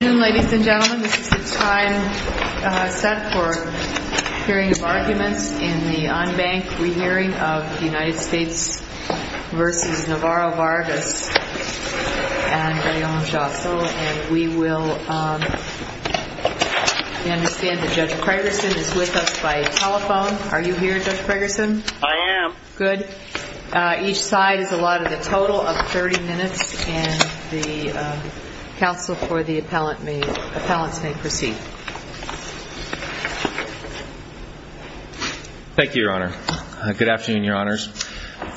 I am. Good. Each side is allotted a total of 30 minutes and the counsel for the appellant may proceed. Thank you, Your Honor. Good afternoon, Your Honors.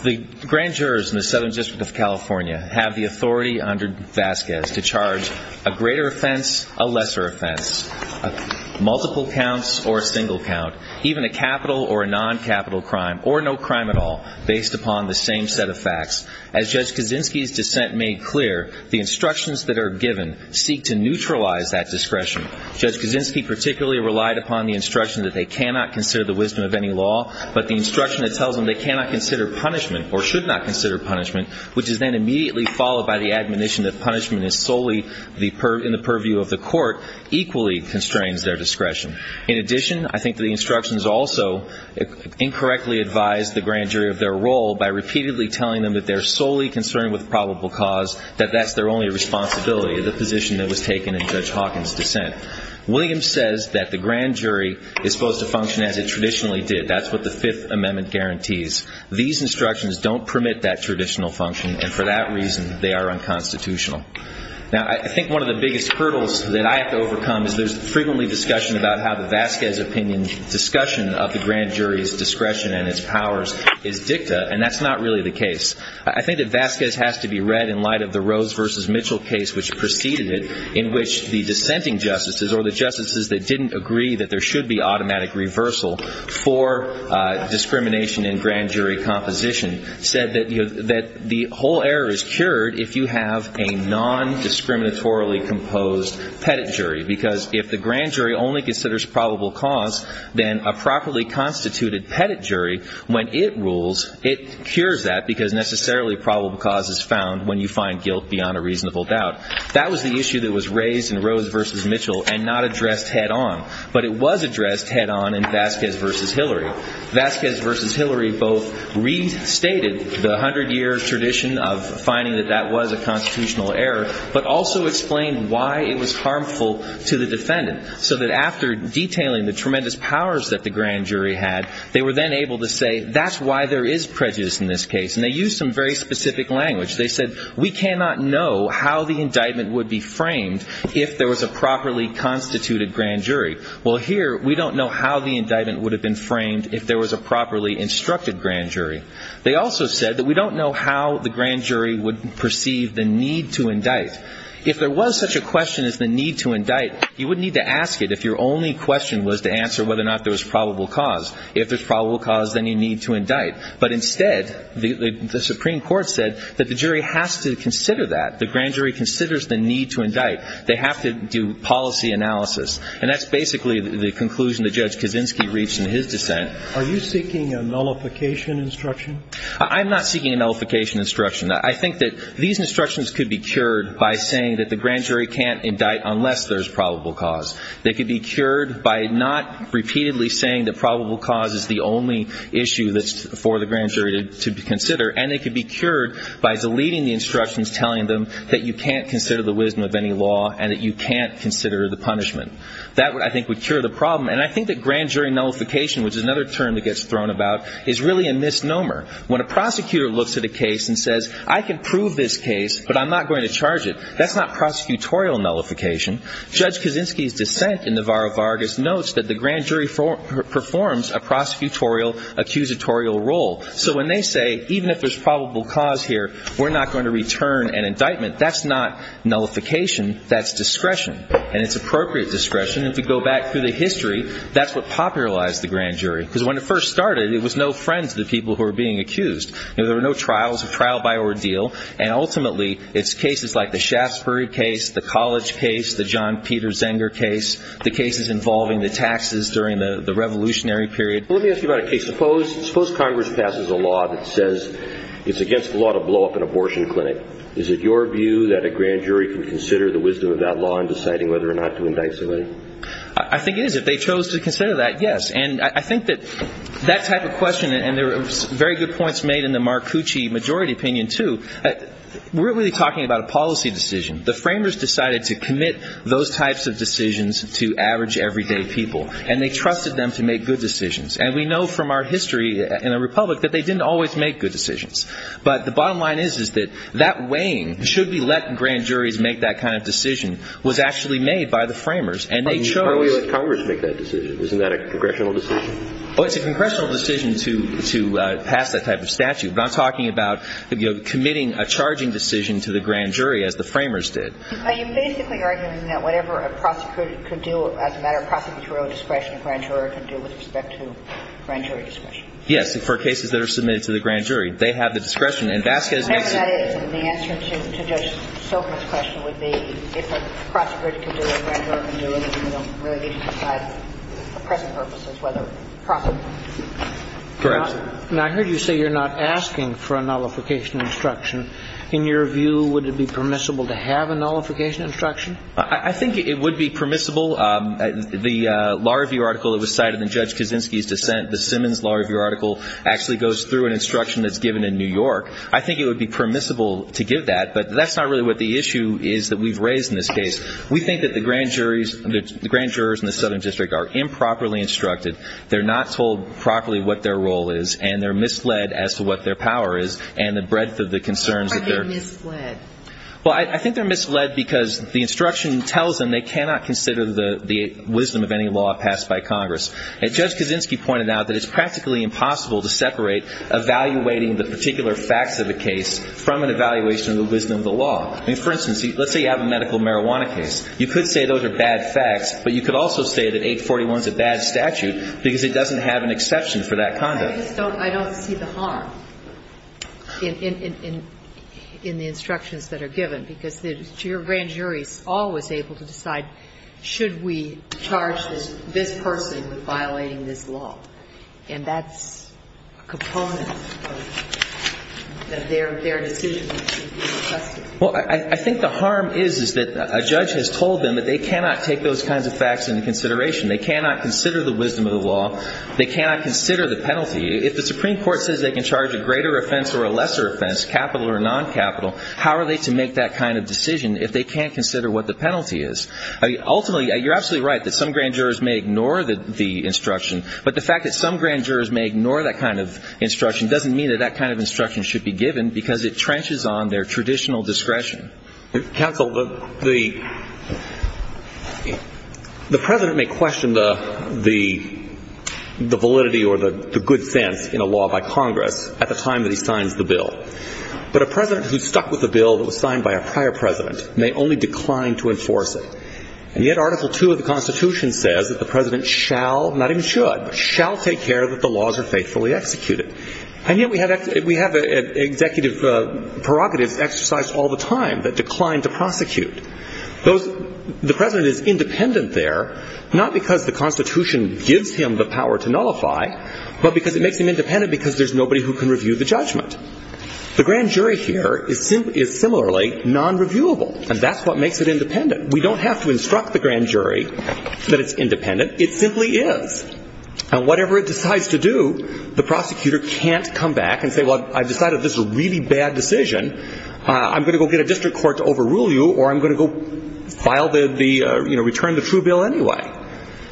The grand jurors in the Southern District of California have the authority under Vasquez to charge a greater offense, a lesser offense, multiple counts or a single count, even a capital or a non-capital crime, or no crime at all, based upon the same set of facts. As Judge Kaczynski's dissent made clear, the instructions that are given seek to neutralize that discretion. Judge Kaczynski particularly relied upon the instruction that they cannot consider the wisdom of any law, but the instruction that tells them they cannot consider punishment or should not consider punishment, which is then immediately followed by the admonition that punishment is solely in the purview of the court, equally constrains their discretion. In addition, I think the instructions also incorrectly advise the grand jury of their role by repeatedly telling them that they're solely concerned with probable cause, that that's their only responsibility, the position that was taken in Judge Hawkins' dissent. Williams says that the grand jury is supposed to function as it traditionally did. That's what the Fifth Amendment guarantees. These instructions don't permit that traditional function and for that reason they are unconstitutional. Now I think one of the biggest hurdles that I have to overcome is there's frequently discussion about how the Vasquez opinion discussion of the grand jury's discretion and its powers is dicta and that's not really the case. I think that Vasquez has to be read in light of the Rose v. Mitchell case which preceded it in which the dissenting justices or the justices that didn't agree that there should be automatic reversal for discrimination in grand jury composition said that the whole error is cured if you have a non-discriminatorily composed pettit jury because if the grand jury only considers probable cause, then a properly constituted pettit jury, when it rules, it cures that because necessarily probable cause is found when you find guilt beyond a reasonable doubt. That was the issue that was raised in Rose v. Mitchell and not addressed head on, but it was addressed head on in Vasquez v. Hillary. Vasquez v. Hillary both restated the hundred year tradition of finding that that was a constitutional error, but also explained why it was harmful to the defendant so that after detailing the tremendous powers that the grand jury had, they were then able to say that's why there is prejudice in this case and they used some very specific language. They said we cannot know how the indictment would be framed if there was a properly constituted grand jury. Well, here we don't know how the indictment would have been framed if there was a properly instructed grand jury. They also said that we don't know how the grand jury would perceive the need to indict. If there was such a question as the need to indict, you wouldn't need to ask it if your only question was to answer whether or not there was probable cause. If there's probable cause, then you need to indict. But instead, the Supreme Court said that the jury has to consider that. The grand jury considers the need to indict. They have to do policy analysis. And that's basically the conclusion that Judge Kaczynski reached in his dissent. Are you seeking a nullification instruction? I'm not seeking a nullification instruction. I think that these instructions could be cured by saying that the grand jury can't indict unless there's probable cause. They could be cured by not repeatedly saying that probable cause is the only issue that's for the grand jury to consider. And they could be cured by deleting the instructions telling them that you can't consider the wisdom of any law and that you can't consider the punishment. That I think would cure the problem. And I think that grand jury nullification, which is another term that gets thrown about, is really a misnomer. When a prosecutor looks at a case and says, I can prove this case, but I'm not going to charge it, that's not prosecutorial nullification. Judge Kaczynski's dissent in the Varro Vargas notes that the grand jury performs a prosecutorial accusatorial role. So when they say, even if there's probable cause here, we're not going to return an indictment, that's not nullification. That's discretion. And it's appropriate discretion. And if you go back through the history, that's what popularized the grand jury. Because when it first started, it was no friends of the people who were being tried. It was a trial by ordeal. And ultimately, it's cases like the Shaftesbury case, the College case, the John Peter Zenger case, the cases involving the taxes during the Revolutionary period. Let me ask you about a case. Suppose Congress passes a law that says it's against the law to blow up an abortion clinic. Is it your view that a grand jury can consider the wisdom of that law in deciding whether or not to indict somebody? I think it is. If they chose to consider that, yes. And I think that that type of question, and there were very good points made in the Marcucci majority opinion, too. We're really talking about a policy decision. The framers decided to commit those types of decisions to average everyday people. And they trusted them to make good decisions. And we know from our history in the Republic that they didn't always make good decisions. But the bottom line is that that weighing, should we let grand juries make that kind of decision, was actually made by the framers. And they chose... How do we let Congress make that decision? Isn't that a congressional decision? Oh, it's a congressional decision to pass that type of statute. But I'm talking about committing a charging decision to the grand jury, as the framers did. Are you basically arguing that whatever a prosecutor could do as a matter of prosecutorial discretion, a grand juror could do with respect to grand jury discretion? Yes, for cases that are submitted to the grand jury. They have the discretion. And Vasquez makes... The answer to Judge Stoker's question would be if a prosecutor could do it, a grand juror could do it, and a grand juror could do it for other purposes, whether prosecutorial. Correct. Now, I heard you say you're not asking for a nullification instruction. In your view, would it be permissible to have a nullification instruction? I think it would be permissible. The law review article that was cited in Judge Kaczynski's dissent, the Simmons law review article, actually goes through an instruction that's given in New York. I think it would be permissible to give that. But that's not really what the issue is that we've raised in this case. We think that the grand jurors in the Southern District are improperly instructed, they're not told properly what their role is, and they're misled as to what their power is and the breadth of the concerns that they're... Why are they misled? Well, I think they're misled because the instruction tells them they cannot consider the wisdom of any law passed by Congress. Judge Kaczynski pointed out that it's practically impossible to separate evaluating the particular facts of a case from an evaluation of the wisdom of the law. I mean, for instance, let's say you have a medical marijuana case. You could say those are bad facts, but you could also say that 841 is a bad statute because it doesn't have an exception for that conduct. I just don't see the harm in the instructions that are given, because the grand jury is always able to decide, should we charge this person with violating this law? And that's a component of their decision to be requested. Well, I think the harm is that a judge has told them that they cannot take those kinds of facts into consideration. They cannot consider the wisdom of the law. They cannot consider the penalty. If the Supreme Court says they can charge a greater offense or a lesser offense, capital or non-capital, how are they to make that kind of decision if they can't consider what the penalty is? Ultimately, you're absolutely right that some grand jurors may ignore the instruction, but the fact that some grand jurors may ignore that kind of instruction doesn't mean that that kind of instruction should be given, because it trenches on their traditional discretion. Counsel, the President may question the validity or the good sense in a law by Congress at the time that he signs the bill, but a President who's stuck with a bill that was signed by a prior President may only decline to enforce it. And yet Article II of the Constitution says that the President shall, not even should, but shall take care that the laws are faithfully executed. And yet we have executive prerogatives exercised all the time that decline to prosecute. The President is independent there, not because the Constitution gives him the power to nullify, but because it makes him independent because there's nobody who can review the judgment. The grand jury here is similarly non-reviewable, and that's what makes it independent. We don't have to instruct the grand jury that it's independent. It simply is. And whatever it decides to do, the prosecutor can't come back and say, well, I've decided this is a really bad decision. I'm going to go get a district court to overrule you, or I'm going to go file the, you know, return the true bill anyway.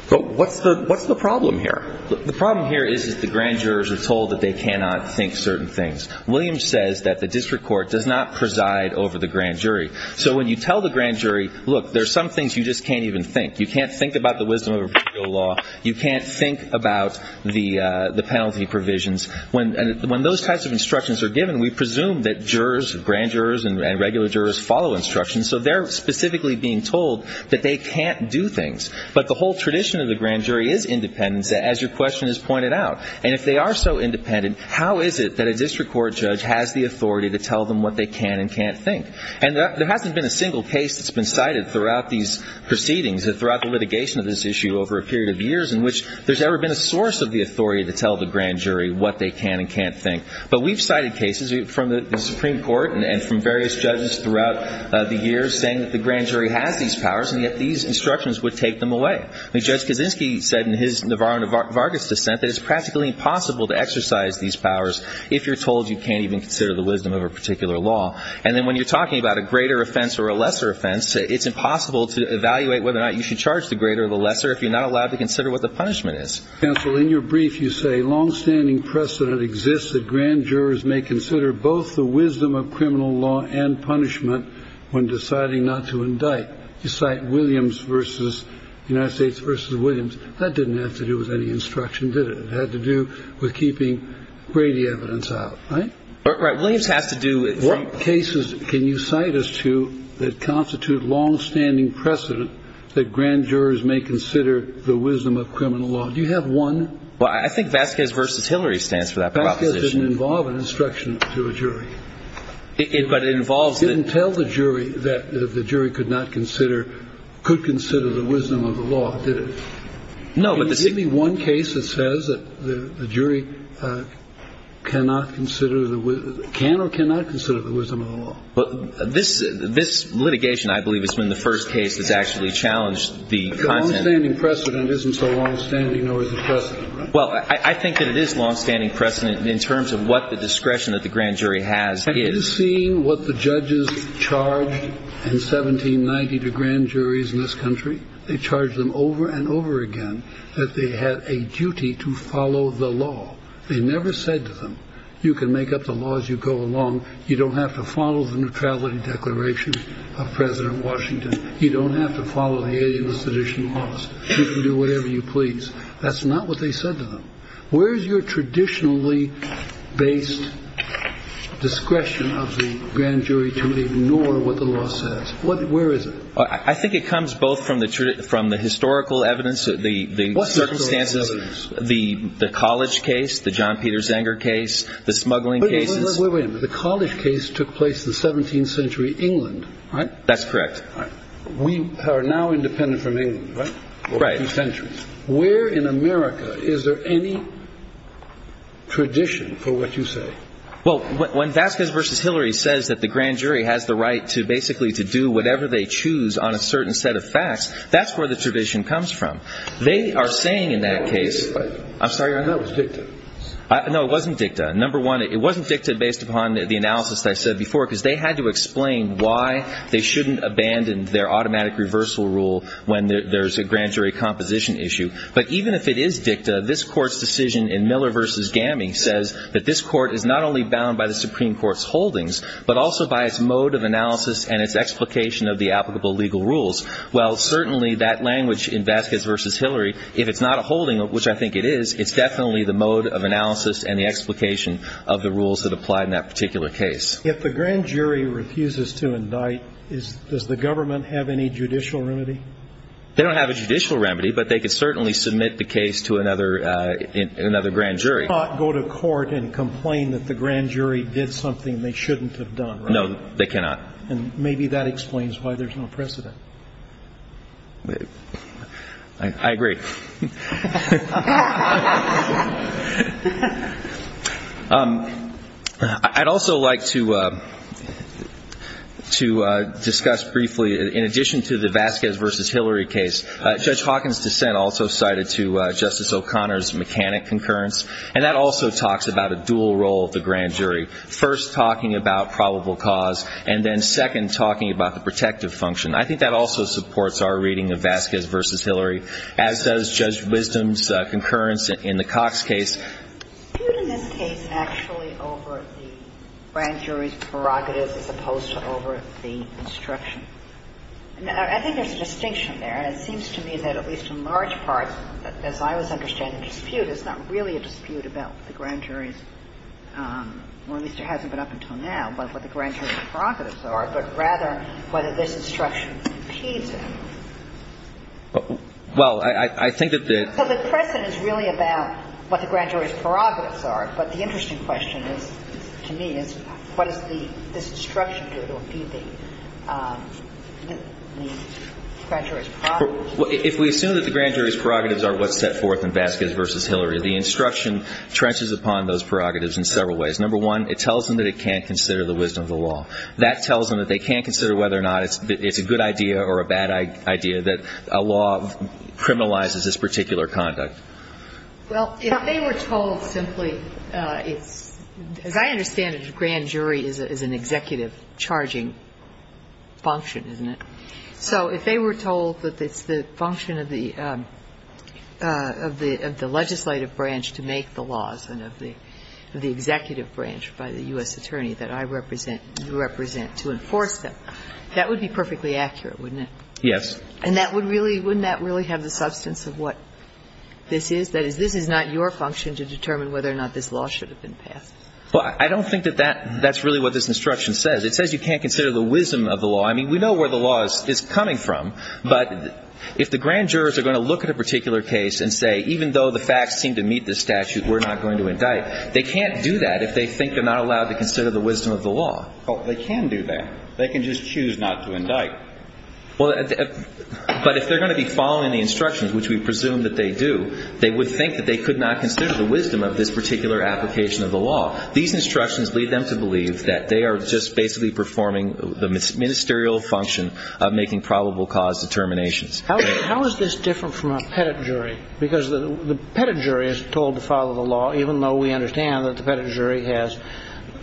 So what's the problem here? The problem here is that the grand jurors are told that they cannot think certain things. Williams says that the district court does not preside over the grand jury. So when you tell the grand jury, look, there's some things you just can't even think. You can't think about the wisdom of a particular law. You can't think about the penalty provisions. When those types of instructions are given, we presume that jurors, grand jurors and regular jurors follow instructions. So they're specifically being told that they can't do things. But the whole tradition of the grand jury is independent, as your question has pointed out. And if they are so independent, how is it that a district court judge has the authority to tell them what they can and can't think? And there hasn't been a single case that's been cited throughout these proceedings, that is, throughout the litigation of this issue over a period of years in which there's ever been a source of the authority to tell the grand jury what they can and can't think. But we've cited cases from the Supreme Court and from various judges throughout the years saying that the grand jury has these powers, and yet these instructions would take them away. I mean, Judge Kaczynski said in his Navarro and Vargas dissent that it's practically impossible to exercise these powers if you're told you can't even consider the wisdom of a particular law. And then when you're talking about a greater offense or a lesser offense, it's impossible to evaluate whether or not you should charge the greater or the lesser if you're not allowed to consider what the punishment is. Counsel, in your brief, you say, longstanding precedent exists that grand jurors may consider both the wisdom of criminal law and punishment when deciding not to indict. You cite Williams versus United States versus Williams. That didn't have to do with any instruction, did it? It had to do with keeping Brady evidence out, right? Right. Williams has to do it. What cases can you cite us to that constitute longstanding precedent that grand jurors may consider the wisdom of criminal law? Do you have one? Well, I think Vasquez versus Hillary stands for that proposition. Vasquez didn't involve an instruction to a jury. But it involves the... It didn't tell the jury that the jury could not consider, could consider the wisdom of the law, did it? No, but the... But this litigation, I believe, has been the first case that's actually challenged the content... The longstanding precedent isn't so longstanding, nor is it precedent, right? Well, I think that it is longstanding precedent in terms of what the discretion that the grand jury has is. Have you seen what the judges charged in 1790 to grand juries in this country? They charged them over and over again that they had a duty to follow the law. They never said to them, you can make up the laws as you go along. You don't have to follow the neutrality declarations of President Washington. You don't have to follow the alias sedition laws. You can do whatever you please. That's not what they said to them. Where is your traditionally based discretion of the grand jury to ignore what the law says? Where is it? I think it comes both from the historical evidence, the circumstances, the college case, the John Peter Zenger case, the smuggling cases. Wait a minute. The college case took place in 17th century England, right? That's correct. We are now independent from England, right? For a few centuries. Where in America is there any tradition for what you say? Well, when Vasquez versus Hillary says that the grand jury has the right to basically to do whatever they choose on a certain set of facts, that's where the tradition comes from. They are saying in that case... I'm sorry. I thought it was dicta. No, it wasn't dicta. Number one, it wasn't dicta based upon the analysis I said before because they had to explain why they shouldn't abandon their automatic reversal rule when there's a grand jury composition issue. But even if it is dicta, this court's decision in Miller versus Gamming says that this court is not only bound by the Supreme Court's holdings, but also by its mode of analysis and its explication of the applicable legal rules. Well, certainly that language in Vasquez versus Hillary, if it's not a holding, which I think it is, it's definitely the mode of analysis and the explication of the rules that apply in that particular case. If the grand jury refuses to indict, does the government have any judicial remedy? They don't have a judicial remedy, but they could certainly submit the case to another grand jury. They cannot go to court and complain that the grand jury did something they shouldn't have done, right? No, they cannot. And maybe that explains why there's no precedent. I agree. I'd also like to discuss briefly, in addition to the Vasquez versus Hillary case, Judge Hawkins' dissent also cited to Justice O'Connor's mechanic concurrence, and that also talks about a dual role of the grand jury, first talking about probable cause, and then second talking about the protective function. I think that also supports our reading of Vasquez versus Hillary, as does Judge Wisdom's concurrence in the Cox case. Is there a dispute in this case actually over the grand jury's prerogative as opposed to over the instruction? I think there's a distinction there, and it seems to me that at least in large part, as I was understanding the dispute, there's not really a dispute about the grand jury's, or at least it hasn't been up until now, about what the grand jury's prerogatives are, but rather whether this instruction impedes it. Well, I think that the — So the precedent is really about what the grand jury's prerogatives are, but the interesting question is, to me, is what does this instruction do to impede the grand jury's prerogatives? If we assume that the grand jury's prerogatives are what's set forth in Vasquez versus Hillary, the instruction trenches upon those prerogatives in several ways. Number one, it tells them that it can't consider the wisdom of the law. That tells them that they can't consider whether or not it's a good idea or a bad idea, that a law criminalizes this particular conduct. Well, if they were told simply it's — as I understand it, a grand jury is an executive charging function, isn't it? So if they were told that it's the function of the legislative branch to make the laws and of the executive branch by the U.S. attorney that I represent, you represent, to enforce them, that would be perfectly accurate, wouldn't it? Yes. And that would really — wouldn't that really have the substance of what this is? That is, this is not your function to determine whether or not this law should have been passed. Well, I don't think that that's really what this instruction says. It says you can't consider the wisdom of the law. I mean, we know where the law is coming from. But if the grand jurors are going to look at a particular case and say, even though the facts seem to meet this statute, we're not going to indict, they can't do that if they think they're not allowed to consider the wisdom of the law. Well, they can do that. They can just choose not to indict. Well, but if they're going to be following the instructions, which we presume that they do, they would think that they could not consider the wisdom of this particular application of the law. These instructions lead them to believe that they are just basically performing the ministerial function of making probable cause determinations. How is this different from a pettit jury? Because the pettit jury is told to follow the law, even though we understand that the pettit jury has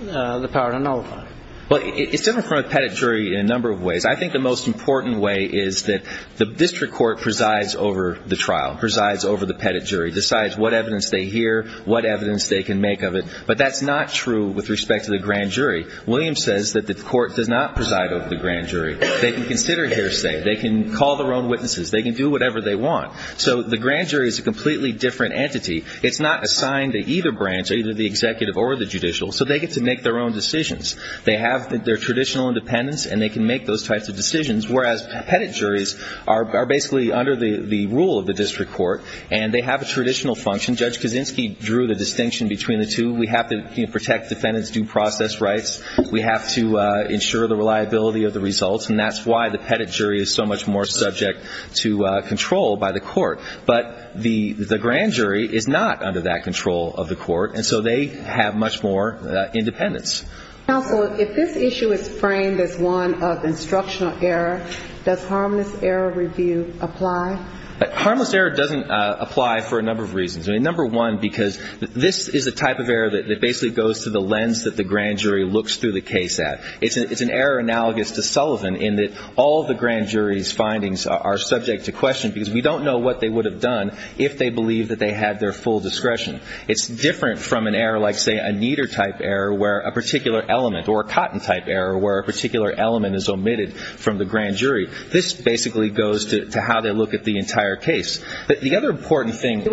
the power to nullify it. Well, it's different from a pettit jury in a number of ways. I think the most important way is that the district court presides over the trial, presides over the pettit jury, decides what evidence they hear, what evidence they can make of it. But that's not true with respect to the grand jury. William says that the court does not preside over the grand jury. They can consider hearsay. They can call their own witnesses. They can do whatever they want. So the grand jury is a completely different entity. It's not assigned to either branch, either the executive or the judicial, so they get to make their own decisions. They have their traditional independence, and they can make those types of decisions, whereas pettit juries are basically under the rule of the district court, and they have a traditional function. Judge Kaczynski drew the distinction between the two. We have to protect defendants' due process rights. We have to ensure the reliability of the results. And that's why the pettit jury is so much more subject to control by the court. But the grand jury is not under that control of the court, and so they have much more independence. Counsel, if this issue is framed as one of instructional error, does harmless error review apply? Harmless error doesn't apply for a number of reasons. Number one, because this is a type of error that basically goes to the lens that the grand jury looks through the case at. It's an error analogous to Sullivan in that all the grand jury's findings are subject to question, because we don't know what they would have done if they believed that they had their full discretion. It's different from an error like, say, a kneader-type error where a particular element, or a cotton-type error where a particular element is omitted from the grand jury. This basically goes to how they look at the entire case. The other important thing.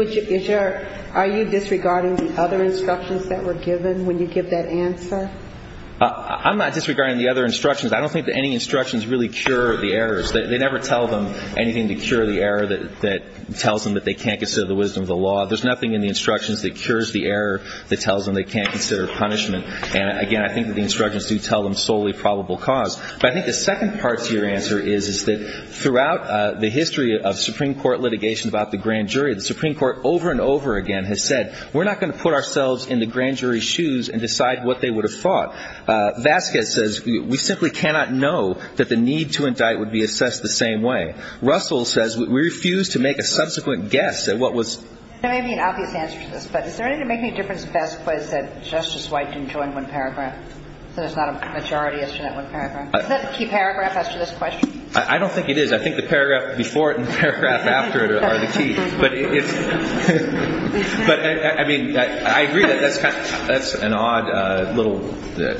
Are you disregarding the other instructions that were given when you give that answer? I'm not disregarding the other instructions. I don't think that any instructions really cure the errors. They never tell them anything to cure the error that tells them that they can't consider the wisdom of the law. There's nothing in the instructions that cures the error that tells them they can't consider punishment. And, again, I think the instructions do tell them solely probable cause. But I think the second part to your answer is that throughout the history of the Supreme Court, the Supreme Court has said, we're not going to put ourselves in the grand jury's shoes and decide what they would have thought. Vasquez says we simply cannot know that the need to indict would be assessed the same way. Russell says we refuse to make a subsequent guess at what was. There may be an obvious answer to this, but does there make any difference if Vasquez said Justice White didn't join one paragraph, so there's not a majority issue in that one paragraph? Is that the key paragraph after this question? I don't think it is. I think the paragraph before it and the paragraph after it are the key. But, I mean, I agree that that's an odd little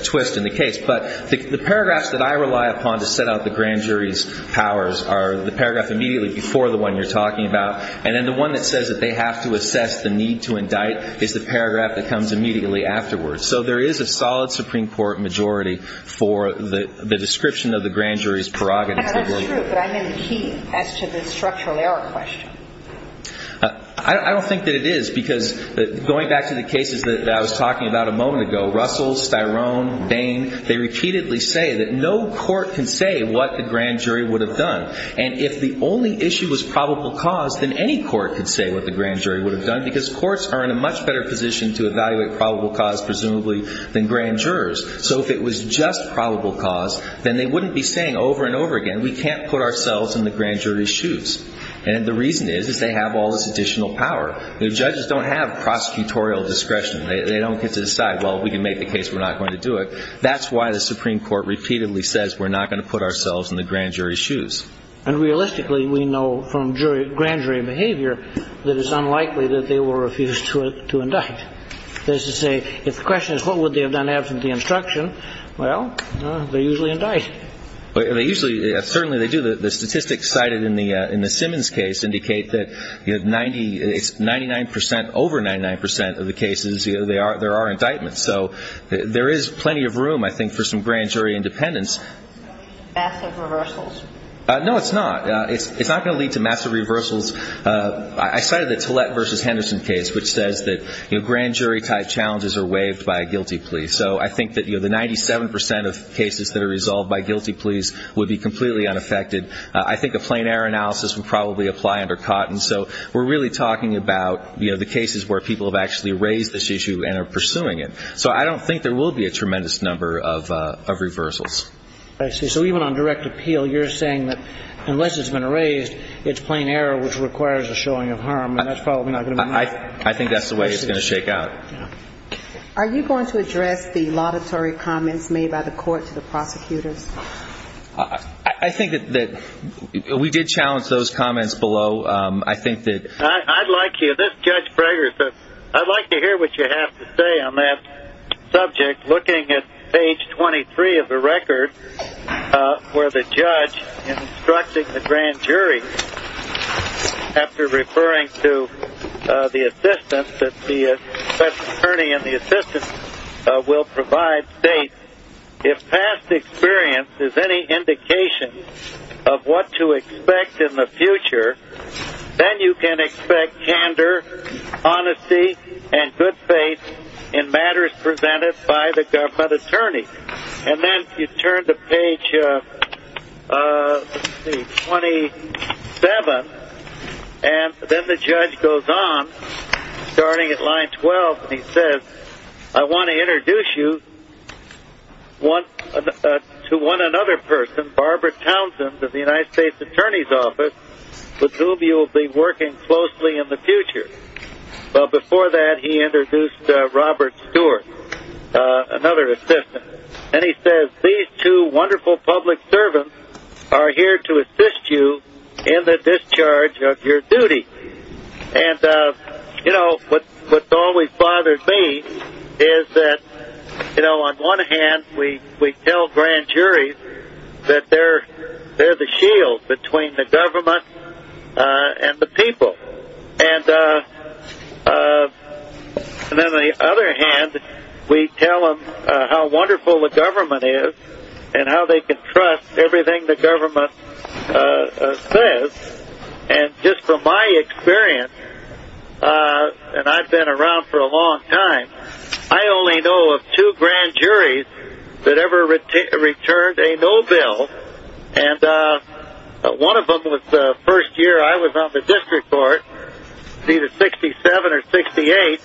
twist in the case. But the paragraphs that I rely upon to set out the grand jury's powers are the paragraph immediately before the one you're talking about, and then the one that says that they have to assess the need to indict is the paragraph that comes immediately afterwards. So there is a solid Supreme Court majority for the description of the grand jury's prerogatives. That's true, but I'm in key as to the structural error question. I don't think that it is, because going back to the cases that I was talking about a moment ago, Russell, Styrone, Bain, they repeatedly say that no court can say what the grand jury would have done. And if the only issue was probable cause, then any court could say what the grand jury would have done, because courts are in a much better position to evaluate probable cause, presumably, than grand jurors. So if it was just probable cause, then they wouldn't be saying over and over again, we can't put ourselves in the grand jury's shoes. And the reason is, is they have all this additional power. The judges don't have prosecutorial discretion. They don't get to decide, well, if we can make the case, we're not going to do it. That's why the Supreme Court repeatedly says we're not going to put ourselves in the grand jury's shoes. And realistically, we know from grand jury behavior that it's unlikely that they will refuse to indict. That is to say, if the question is what would they have done absent the instruction, well, they usually indict. They usually, certainly they do. The statistics cited in the Simmons case indicate that it's 99% over 99% of the cases there are indictments. So there is plenty of room, I think, for some grand jury independence. Massive reversals. No, it's not. It's not going to lead to massive reversals. I cited the Tillett v. Henderson case, which says that grand jury-type challenges are waived by a guilty plea. So I think that the 97% of cases that are resolved by guilty pleas would be completely unaffected. I think a plain error analysis would probably apply under Cotton. So we're really talking about the cases where people have actually raised this issue and are pursuing it. So I don't think there will be a tremendous number of reversals. I see. So even on direct appeal, you're saying that unless it's been raised, it's plain error, which requires a showing of harm, and that's probably not going to be enough. I think that's the way it's going to shake out. Are you going to address the laudatory comments made by the court to the prosecutors? I think that we did challenge those comments below. I'd like to hear what you have to say on that subject. Looking at page 23 of the record, where the judge instructing the grand jury, after referring to the assistance, that the special attorney in the assistance will provide states, if past experience is any indication of what to expect in the future, then you can expect candor, honesty, and good faith in matters presented by the government attorney. And then you turn to page 27, and then the judge goes on, starting at line 12, and he says, I want to introduce you to one another person, Barbara Townsend of the United States Attorney's Office, with whom you will be working closely in the future. Before that, he introduced Robert Stewart, another assistant. And he says, these two wonderful public servants are here to assist you in the discharge of your duty. What's always bothered me is that, on one hand, we tell grand juries that they're the shield between the government and the people. And on the other hand, we tell them how wonderful the government is and how they can trust everything the government says. And just from my experience, and I've been around for a long time, I only know of two grand juries that ever returned a no bill. And one of them was the first year I was on the district court, either 67 or 68.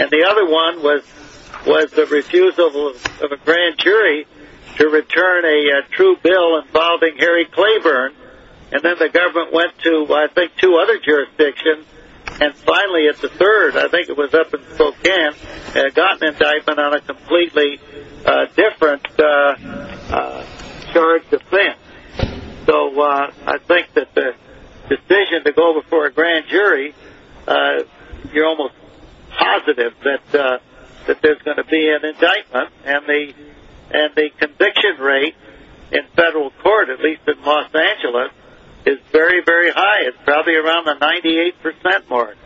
And the other one was the refusal of a grand jury to return a true bill involving Harry Claiborne. And then the government went to, I think, two other jurisdictions. And finally, at the third, I think it was up in Spokane, got an indictment on a So I think that the decision to go before a grand jury, you're almost positive that there's going to be an indictment. And the conviction rate in federal court, at least in Los Angeles, is very, very high. It's probably around the 98% mark.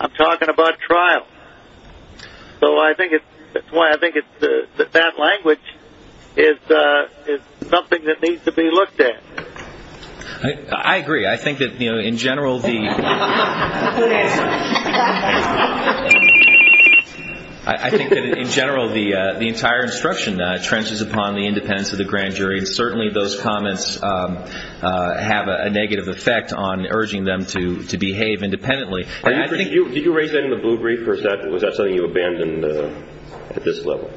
I'm talking about trials. So I think that language is something that needs to be looked at. I agree. I think that, in general, the entire instruction trenches upon the independence of the grand jury. And certainly those comments have a negative effect on urging them to behave independently. Did you raise that in the blue brief? Or was that something you abandoned at this level?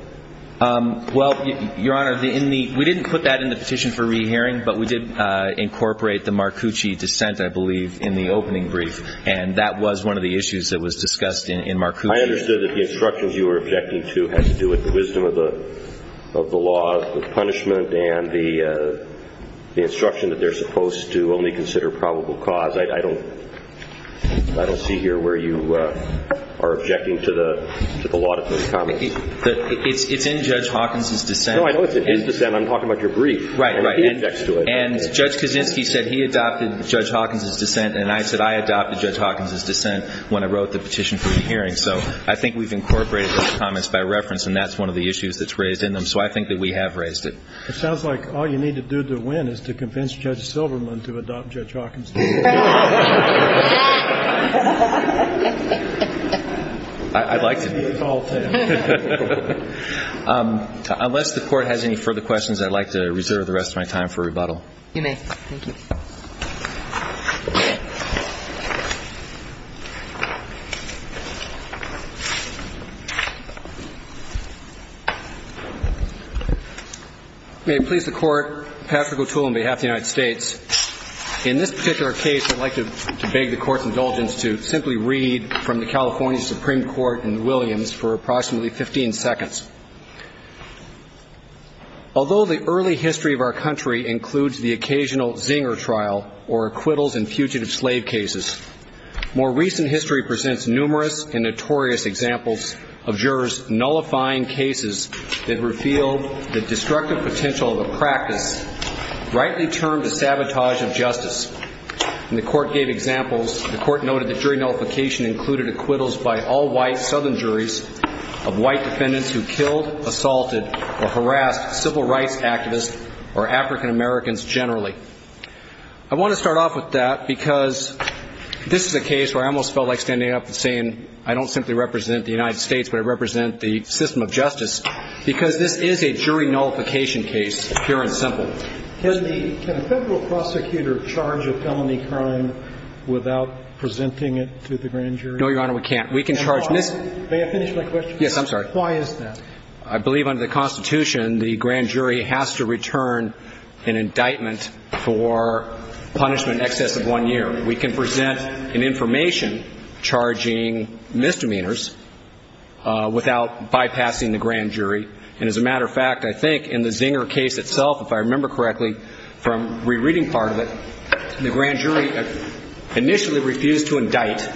Well, Your Honor, we didn't put that in the petition for re-hearing, but we did incorporate the Marcucci dissent, I believe, in the opening brief. And that was one of the issues that was discussed in Marcucci. I understood that the instructions you were objecting to had to do with the wisdom of the law of punishment and the instruction that they're supposed to only consider probable cause. I don't see here where you are objecting to the law of those comments. It's in Judge Hawkins' dissent. No, I know it's in his dissent. I'm talking about your brief. Right, right. And he objects to it. And Judge Kaczynski said he adopted Judge Hawkins' dissent, and I said I adopted Judge Hawkins' dissent when I wrote the petition for re-hearing. So I think we've incorporated those comments by reference, and that's one of the issues that's raised in them. So I think that we have raised it. Judge Hawkins' dissent. Right. Right. I'd like to do a follow-up to that. Unless the Court has any further questions, I'd like to reserve the rest of my time for rebuttal. You may. Thank you. May it please the Court, Patrick O'Toole on behalf of the United States. In this particular case, I'd like to beg the Court's indulgence to simply read from the California Supreme Court in Williams for approximately 15 seconds. Although the early history of our country includes the occasional Zinger trial or acquittals in fugitive slave cases, more recent history presents numerous and notorious examples of jurors nullifying cases that reveal the destructive potential of a practice rightly termed a sabotage of justice. And the Court gave examples. The Court noted that jury nullification included acquittals by all-white southern juries of white defendants who killed, assaulted, or harassed civil rights activists or African Americans generally. I want to start off with that because this is a case where I almost felt like standing up and saying, I don't simply represent the United States, but I can. We should have a jury nullification case, pure and simple. Can a federal prosecutor charge a felony crime without presenting it to the grand jury? No, Your Honor, we can't. We can charge misdemeanors. May I finish my question? Yes, I'm sorry. Why is that? I believe under the Constitution, the grand jury has to return an indictment for punishment in excess of one year. Here we can present an information charging misdemeanors without bypassing the grand jury. And as a matter of fact, I think in the Zinger case itself, if I remember correctly from rereading part of it, the grand jury initially refused to indict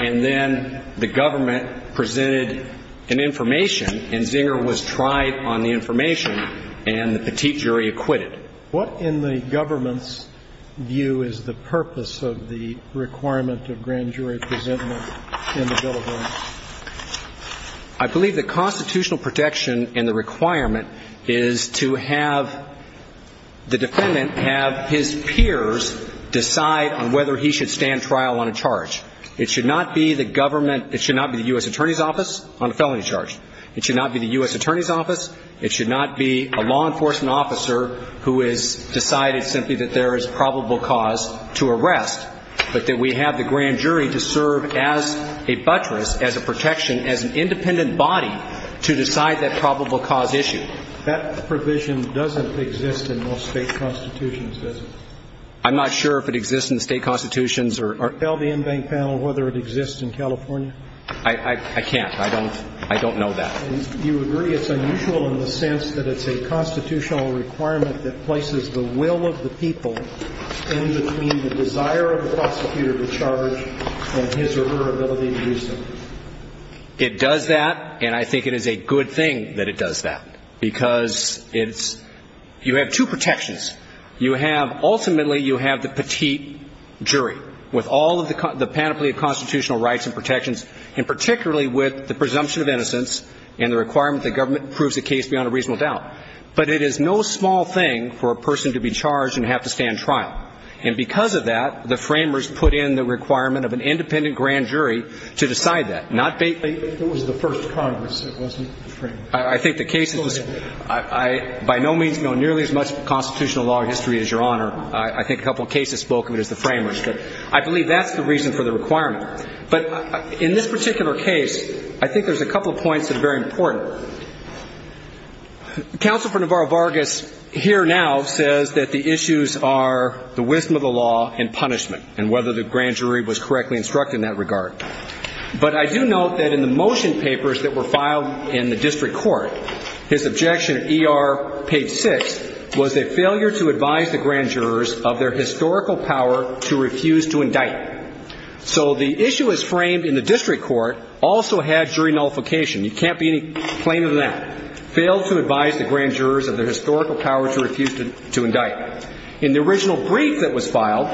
and then the government presented an information and Zinger was tried on the information and the petite jury acquitted. What in the government's view is the purpose of the requirement of grand jury presentment in the bill of rights? I believe the constitutional protection and the requirement is to have the defendant have his peers decide on whether he should stand trial on a charge. It should not be the government, it should not be the U.S. Attorney's Office on a felony charge. It should not be the U.S. Attorney's Office. It should not be a law enforcement officer who has decided simply that there is probable cause to arrest, but that we have the grand jury to serve as a buttress, as a protection, as an independent body to decide that probable cause issue. That provision doesn't exist in most state constitutions, does it? I'm not sure if it exists in the state constitutions. Tell the in-bank panel whether it exists in California. I can't. I don't know that. You agree it's unusual in the sense that it's a constitutional requirement that places the will of the people in between the desire of the prosecutor to charge and his or her ability to use them. It does that, and I think it is a good thing that it does that, because it's – you have two protections. You have – ultimately, you have the petite jury. With all of the panoply of constitutional rights and protections, and particularly with the presumption of innocence and the requirement that government proves a case beyond a reasonable doubt. But it is no small thing for a person to be charged and have to stand trial. And because of that, the framers put in the requirement of an independent grand jury to decide that, not – If it was the first Congress, it wasn't the framers. I think the cases – Go ahead. By no means know nearly as much constitutional law or history as Your Honor. I think a couple of cases spoke of it as the framers. But I believe that's the reason for the requirement. But in this particular case, I think there's a couple of points that are very important. Counsel for Navarro Vargas here now says that the issues are the wisdom of the law and punishment, and whether the grand jury was correctly instructed in that regard. But I do note that in the motion papers that were filed in the district court, his objection at ER page 6 was a failure to advise the grand jurors of their historical power to refuse to indict. So the issue as framed in the district court also had jury nullification. You can't be any plainer than that. Failed to advise the grand jurors of their historical power to refuse to indict. In the original brief that was filed,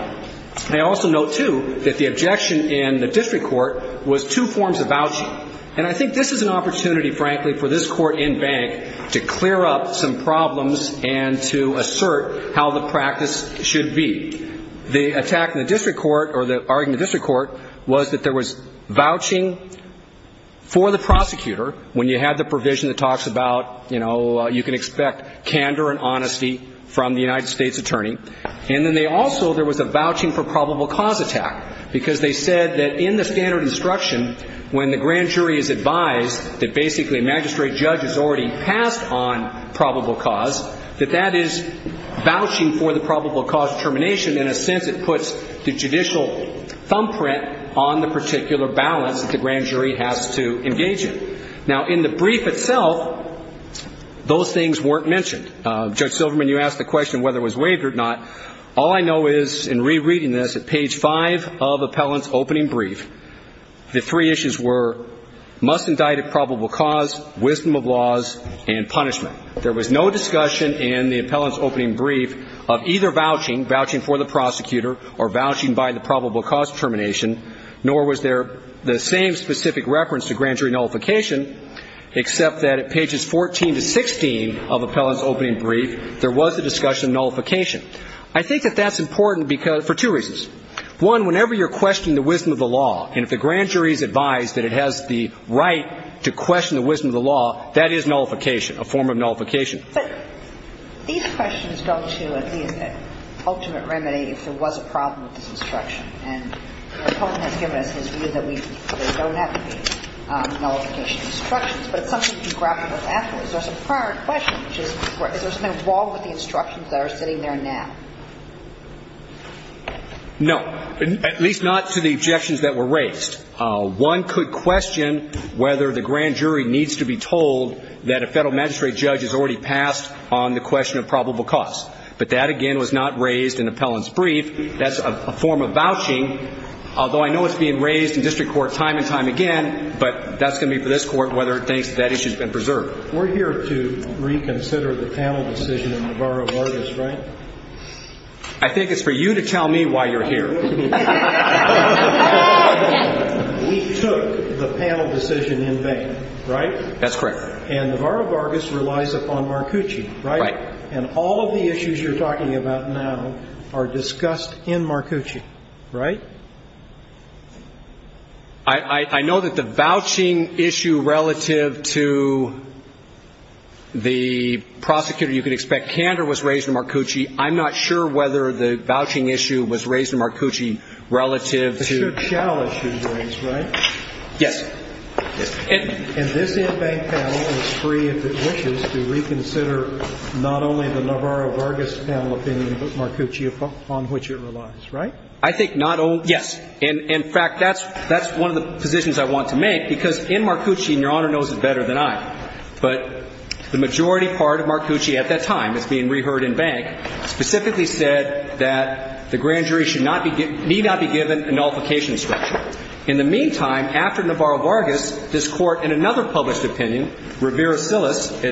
I also note, too, that the objection in the district court was two forms of vouching. And I think this is an opportunity, frankly, for this court and bank to clear up some problems and to assert how the practice should be. The attack in the district court, or the argument in the district court, was that there was vouching for the prosecutor when you had the provision that talks about, you know, you can expect candor and honesty from the United States attorney. And then they also, there was a vouching for probable cause attack, because they said that in the standard instruction, when the grand jury is advised that basically a magistrate judge has already passed on probable cause, that that is vouching for the probable cause termination. In a sense, it puts the judicial thumbprint on the particular balance that the grand jury has to engage in. Now, in the brief itself, those things weren't mentioned. Judge Silverman, you asked the question whether it was waived or not. All I know is, in rereading this, at page 5 of appellant's opening brief, the three issues were must indict at probable cause, wisdom of laws, and punishment. There was no discussion in the appellant's opening brief of either vouching, vouching for the prosecutor, or vouching by the probable cause termination, nor was there the same specific reference to grand jury nullification, except that at pages 14 to 16 of appellant's opening brief, there was a discussion of nullification. I think that that's important for two reasons. One, whenever you're questioning the wisdom of the law, and if the grand jury is advised that it has the right to question the wisdom of the law, that is nullification, a form of nullification. But these questions go to, at least, that ultimate remedy if there was a problem with this instruction. And the opponent has given us his view that there don't have to be nullification instructions, but it's something you can grapple with afterwards. There's a prior question, which is, is there something wrong with the instructions that are sitting there now? No. At least not to the objections that were raised. One could question whether the grand jury needs to be told that a Federal magistrate judge has already passed on the question of probable cause. But that, again, was not raised in appellant's brief. That's a form of vouching, although I know it's being raised in district court time and time again, but that's going to be for this Court, whether it thinks that issue has been preserved. We're here to reconsider the panel decision in Navarro-Vargas, right? I think it's for you to tell me why you're here. We took the panel decision in vain, right? That's correct. And Navarro-Vargas relies upon Marcucci, right? Right. And all of the issues you're talking about now are discussed in Marcucci, right? I know that the vouching issue relative to the prosecutor you could expect, Kander was raised in Marcucci. I'm not sure whether the vouching issue was raised in Marcucci relative to the other panel. But it should shall issue be raised, right? Yes. And this in-bank panel is free if it wishes to reconsider not only the Navarro-Vargas panel opinion, but Marcucci, upon which it relies, right? I think not only yes. In fact, that's one of the positions I want to make, because in Marcucci, and Your Honor knows it better than I, but the majority part of Marcucci at that time is being heard in-bank, specifically said that the grand jury need not be given a nullification instruction. In the meantime, after Navarro-Vargas, this Court in another published opinion, Rivera-Cias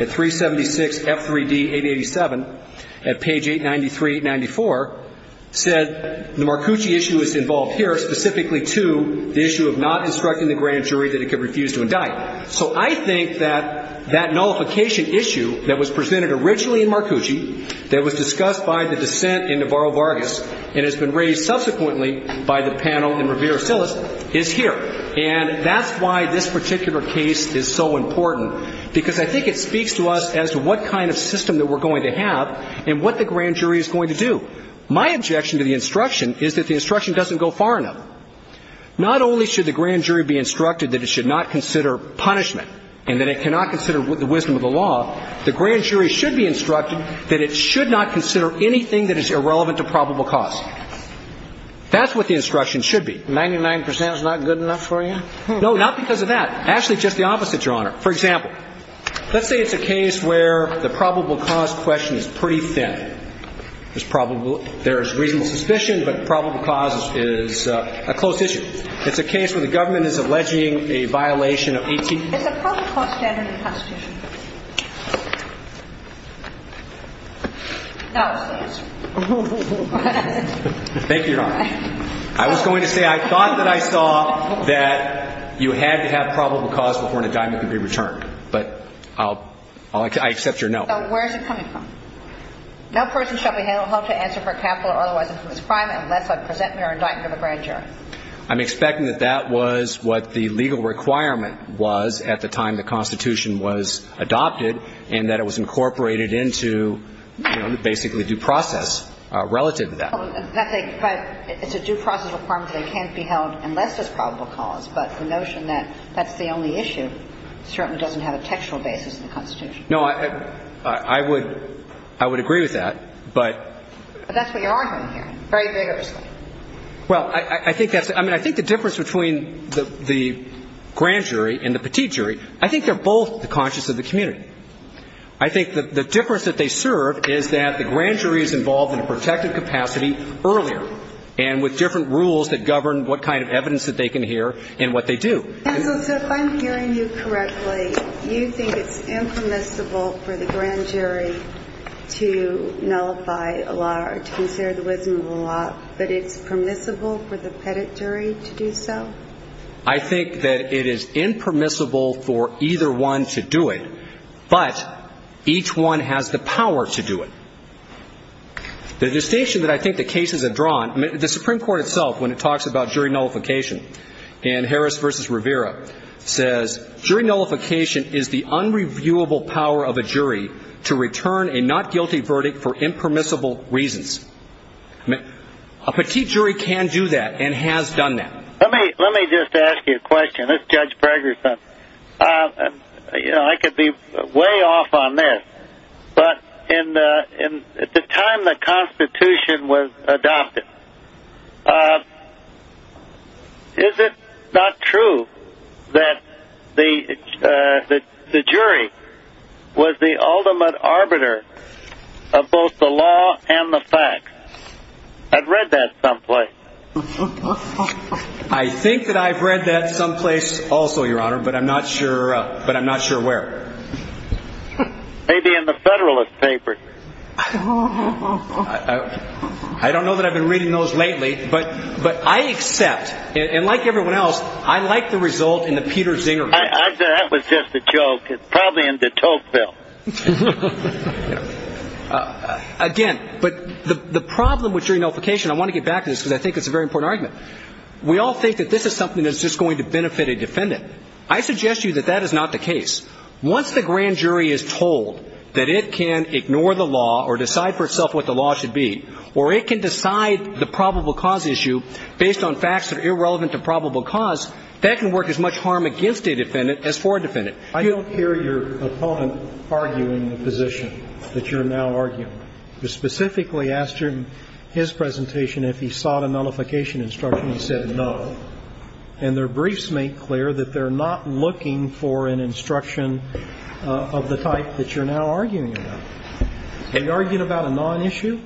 at 376 F3D 887 at page 893-894, said the Marcucci issue is involved here specifically to the issue of not instructing the grand jury that it could refuse to indict. So I think that that nullification issue that was presented originally in Marcucci, that was discussed by the dissent in Navarro-Vargas and has been raised subsequently by the panel in Rivera-Cias is here. And that's why this particular case is so important, because I think it speaks to us as to what kind of system that we're going to have and what the grand jury is going to do. My objection to the instruction is that the instruction doesn't go far enough. Not only should the grand jury be instructed that it should not consider punishment and that it cannot consider the wisdom of the law, the grand jury should be instructed that it should not consider anything that is irrelevant to probable cause. That's what the instruction should be. 99 percent is not good enough for you? No, not because of that. Actually, just the opposite, Your Honor. For example, let's say it's a case where the probable cause question is pretty thin. There's reasonable suspicion, but probable cause is a closed issue. It's a case where the government is alleging a violation of 18- It's a probable cause standard in the Constitution. No, it's not. Thank you, Your Honor. I was going to say I thought that I saw that you had to have probable cause before an indictment could be returned, but I accept your no. So where is it coming from? No person shall be held to answer for capital or otherwise infamous crime unless I present mere indictment of a grand jury. I'm expecting that that was what the legal requirement was at the time the Constitution was adopted, and that it was incorporated into, you know, basically due process relative to that. But it's a due process requirement that it can't be held unless there's probable cause, but the notion that that's the only issue certainly doesn't have a textual basis in the Constitution. No, I would agree with that, but- But that's what you're arguing here, very vigorously. Well, I think that's-I mean, I think the difference between the grand jury and the petite jury, I think they're both the conscience of the community. I think the difference that they serve is that the grand jury is involved in a protective capacity earlier and with different rules that govern what kind of evidence that they can hear and what they do. Counsel, so if I'm hearing you correctly, you think it's impermissible for the grand jury to nullify a law or to consider the wisdom of a law, but it's permissible for the petite jury to do so? I think that it is impermissible for either one to do it, but each one has the power to do it. The distinction that I think the cases have drawn-I mean, the Supreme Court itself, when it talks about jury nullification, in Harris v. Rivera, says, jury nullification is the unreviewable power of a jury to return a not guilty verdict for impermissible reasons. A petite jury can do that and has done that. Let me just ask you a question. This is Judge Braggerson. You know, I could be way off on this, but at the time the Constitution was passed, is it not true that the jury was the ultimate arbiter of both the law and the facts? I've read that someplace. I think that I've read that someplace also, Your Honor, but I'm not sure where. Maybe in the Federalist Papers. I don't know that I've been reading those lately, but I accept, and like everyone else, I like the result in the Peter Zinger case. I said that was just a joke. It's probably in the Tocqueville. Again, but the problem with jury nullification-I want to get back to this because I think it's a very important argument. We all think that this is something that's just going to benefit a defendant. I suggest to you that that is not the case. Once the grand jury is told that it can ignore the law or decide for itself what the law should be or it can decide the probable cause issue based on facts that are irrelevant to probable cause, that can work as much harm against a defendant as for a defendant. I don't hear your opponent arguing the position that you're now arguing. I specifically asked him in his presentation if he sought a nullification instruction. He said no. And their briefs make clear that they're not looking for an instruction of the type that you're now arguing about. Are you arguing about a non-issue?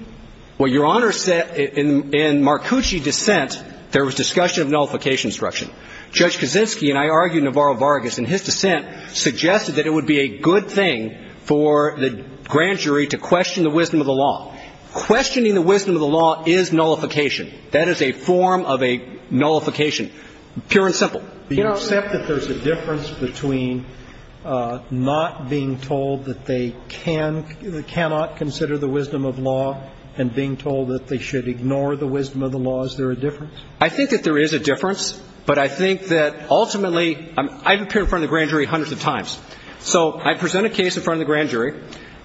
Well, Your Honor, in Marcucci's dissent, there was discussion of nullification instruction. Judge Kaczynski and I argued Navarro-Vargas, and his dissent suggested that it would be a good thing for the grand jury to question the wisdom of the law. Questioning the wisdom of the law is nullification. That is a form of a nullification, pure and simple. Do you accept that there's a difference between not being told that they cannot consider the wisdom of law and being told that they should ignore the wisdom of the law? Is there a difference? I think that there is a difference, but I think that ultimately I've appeared in front of the grand jury hundreds of times. So I present a case in front of the grand jury,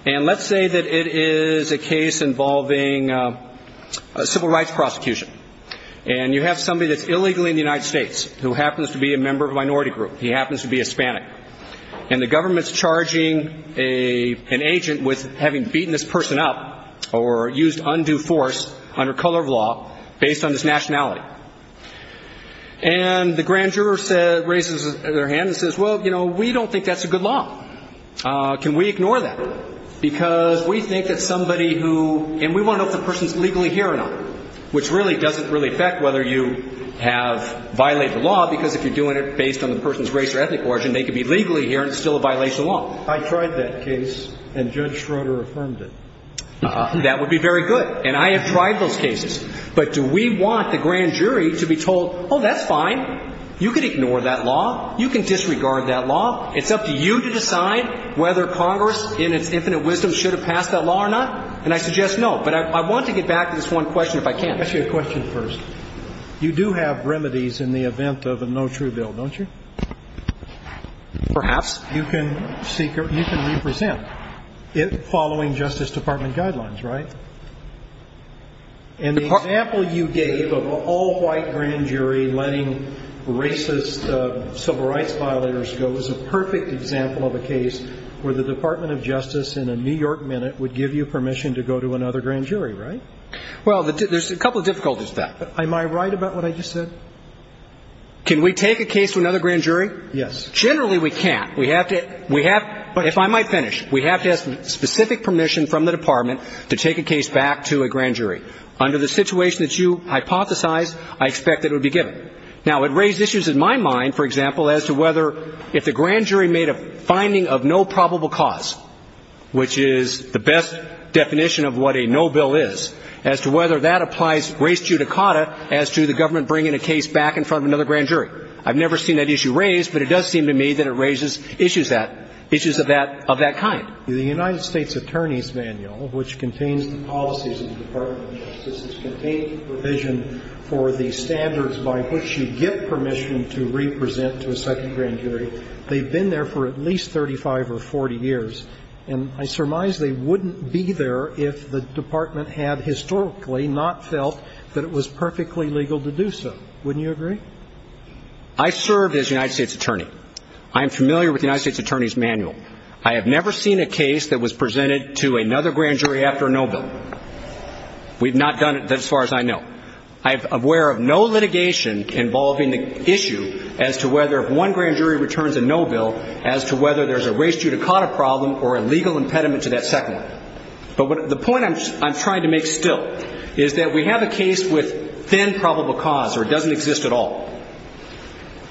and let's say that it is a case involving a civil rights prosecution. And you have somebody that's illegally in the United States who happens to be a member of a minority group. He happens to be Hispanic. And the government's charging an agent with having beaten this person up or used undue force under color of law based on his nationality. And the grand juror raises their hand and says, well, you know, we don't think that's a good law. Can we ignore that? Because we think that somebody who, and we want to know if the person's legally here or not, which really doesn't really affect whether you have violated the law because if you're doing it based on the person's race or ethnic origin, they could be legally here and it's still a violation of law. I tried that case, and Judge Schroeder affirmed it. That would be very good. And I have tried those cases. But do we want the grand jury to be told, oh, that's fine, you can ignore that law, you can disregard that law. It's up to you to decide whether Congress in its infinite wisdom should have passed that law or not. And I suggest no. But I want to get back to this one question if I can. Let me ask you a question first. You do have remedies in the event of a no true bill, don't you? Perhaps. You can represent it following Justice Department guidelines, right? And the example you gave of an all-white grand jury letting racist civil rights violators go is a perfect example of a case where the Department of Justice in a New York minute would give you permission to go to another grand jury, right? Well, there's a couple of difficulties to that. Am I right about what I just said? Can we take a case to another grand jury? Yes. Generally, we can't. We have to ‑‑ if I might finish, we have to have specific permission from the Department to take a case back to a grand jury. Under the situation that you hypothesized, I expect that it would be given. Now, it raised issues in my mind, for example, as to whether if the grand jury made a finding of no probable cause, which is the best definition of what a no bill is, as to whether that applies race judicata as to the government bringing a case back in front of another grand jury. I've never seen that issue raised, but it does seem to me that it raises issues of that kind. The United States Attorney's Manual, which contains the policies of the Department of which you get permission to represent to a second grand jury, they've been there for at least 35 or 40 years, and I surmise they wouldn't be there if the Department had historically not felt that it was perfectly legal to do so. Wouldn't you agree? I served as United States Attorney. I am familiar with the United States Attorney's Manual. I have never seen a case that was presented to another grand jury after a no bill. We've not done it as far as I know. I'm aware of no litigation involving the issue as to whether if one grand jury returns a no bill, as to whether there's a race judicata problem or a legal impediment to that second one. But the point I'm trying to make still is that we have a case with thin probable cause, or it doesn't exist at all.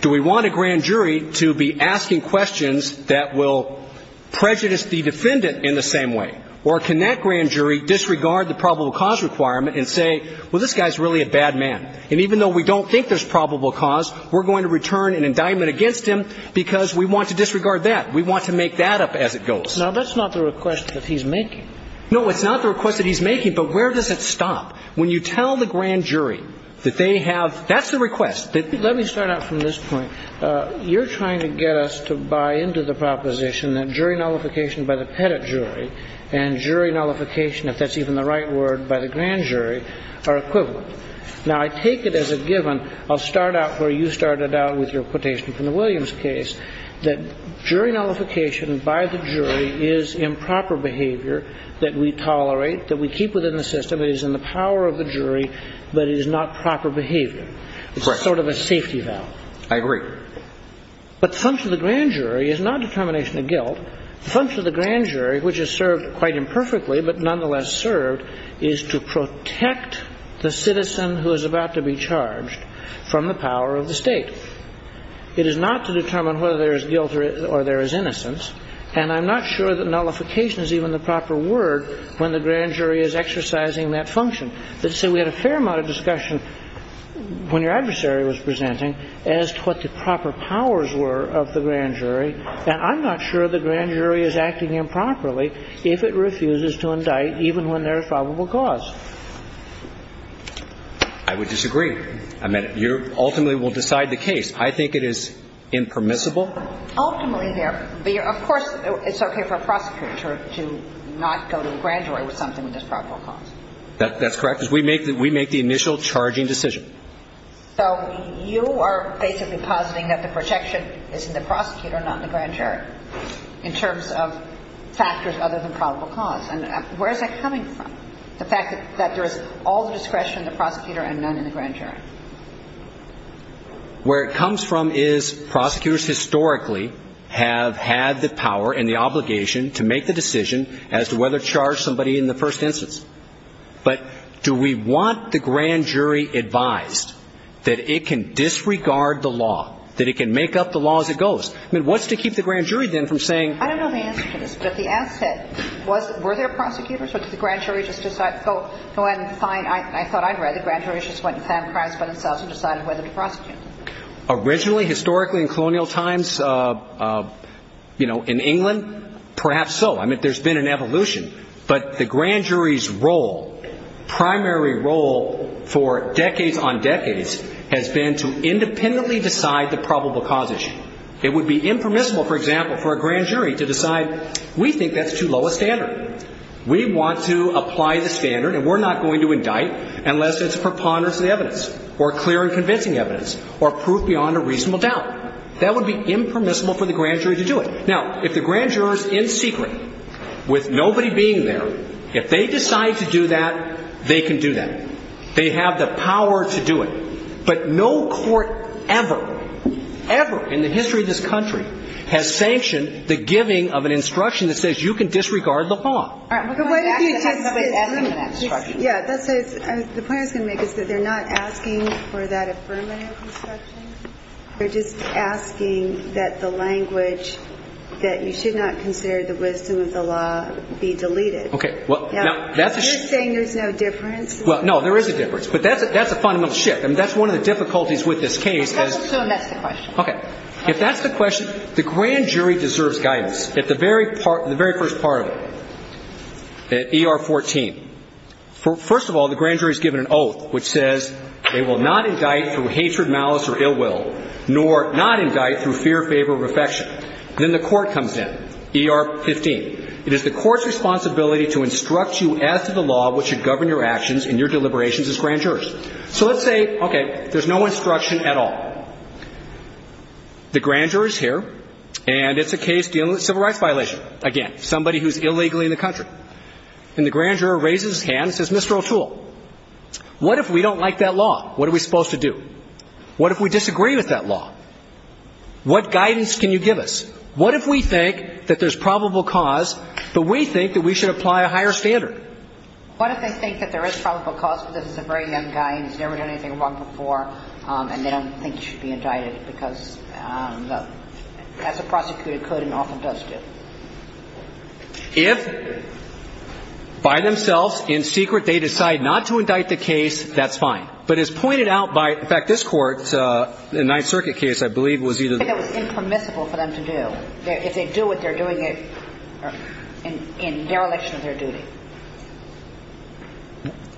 Do we want a grand jury to be asking questions that will prejudice the defendant in the same way? Or can that grand jury disregard the probable cause requirement and say, well, this guy's really a bad man? And even though we don't think there's probable cause, we're going to return an indictment against him because we want to disregard that. We want to make that up as it goes. Now, that's not the request that he's making. No, it's not the request that he's making. But where does it stop? When you tell the grand jury that they have – that's the request. Let me start out from this point. You're trying to get us to buy into the proposition that jury nullification by the pettit jury and jury nullification, if that's even the right word, by the grand jury are equivalent. Now, I take it as a given. I'll start out where you started out with your quotation from the Williams case, that jury nullification by the jury is improper behavior that we tolerate, that we keep within the system. It is in the power of the jury, but it is not proper behavior. Correct. That's sort of a safety valve. I agree. But the function of the grand jury is not determination of guilt. The function of the grand jury, which is served quite imperfectly but nonetheless served, is to protect the citizen who is about to be charged from the power of the State. It is not to determine whether there is guilt or there is innocence. And I'm not sure that nullification is even the proper word when the grand jury is exercising that function. And I'm not sure that the grand jury is acting improperly if it refuses to indict even when there is probable cause. I would disagree. I mean, you ultimately will decide the case. I think it is impermissible. Ultimately, there – of course, it's okay for a prosecutor to not go to the grand jury with something that has probable cause. That's correct. Because we make the initial charging decision. So you are basically positing that the protection is in the prosecutor, not in the grand jury, in terms of factors other than probable cause. And where is that coming from, the fact that there is all the discretion of the prosecutor and none in the grand jury? Where it comes from is prosecutors historically have had the power and the obligation to make the decision as to whether to charge somebody in the first instance. But do we want the grand jury advised that it can disregard the law, that it can make up the law as it goes? I mean, what's to keep the grand jury then from saying – I don't know the answer to this, but the answer – were there prosecutors or did the grand jury just decide – no, I'm fine. I thought I read the grand jury just went and found crimes by themselves and decided whether to prosecute them. Originally, historically, in colonial times, you know, in England, perhaps so. I mean, there's been an evolution. But the grand jury's role, primary role for decades on decades, has been to independently decide the probable cause issue. It would be impermissible, for example, for a grand jury to decide we think that's too low a standard. We want to apply the standard and we're not going to indict unless it's preponderance of the evidence or clear and convincing evidence or proof beyond a reasonable doubt. That would be impermissible for the grand jury to do it. Now, if the grand jury's in secret, with nobody being there, if they decide to do that, they can do that. They have the power to do it. But no court ever, ever in the history of this country has sanctioned the giving of an instruction that says you can disregard the law. All right. But what if you just – It's an affirmative instruction. Yeah. The point I was going to make is that they're not asking for that affirmative instruction. They're just asking that the language that you should not consider the wisdom of the law be deleted. Okay. You're saying there's no difference? Well, no, there is a difference. But that's a fundamental shift. I mean, that's one of the difficulties with this case. That's the question. Okay. If that's the question, the grand jury deserves guidance at the very first part of it, at ER 14. First of all, the grand jury's given an oath which says they will not indict through hatred, malice, or ill will, nor not indict through fear, favor, or affection. Then the court comes in, ER 15. It is the court's responsibility to instruct you as to the law which should govern your actions and your deliberations as grand jurors. So let's say, okay, there's no instruction at all. The grand jury's here, and it's a case dealing with a civil rights violation. Again, somebody who's illegally in the country. And the grand juror raises his hand and says, Mr. O'Toole, what if we don't like that law? What are we supposed to do? What if we disagree with that law? What guidance can you give us? What if we think that there's probable cause, but we think that we should apply a higher standard? What if they think that there is probable cause, but this is a very young guy and he's never done anything wrong before, and they don't think he should be indicted because, as a prosecutor, could and often does do? If by themselves, in secret, they decide not to indict the case, that's fine. But as pointed out by, in fact, this Court, the Ninth Circuit case, I believe, was either the one or the other. I think it was impermissible for them to do. If they do it, they're doing it in dereliction of their duty.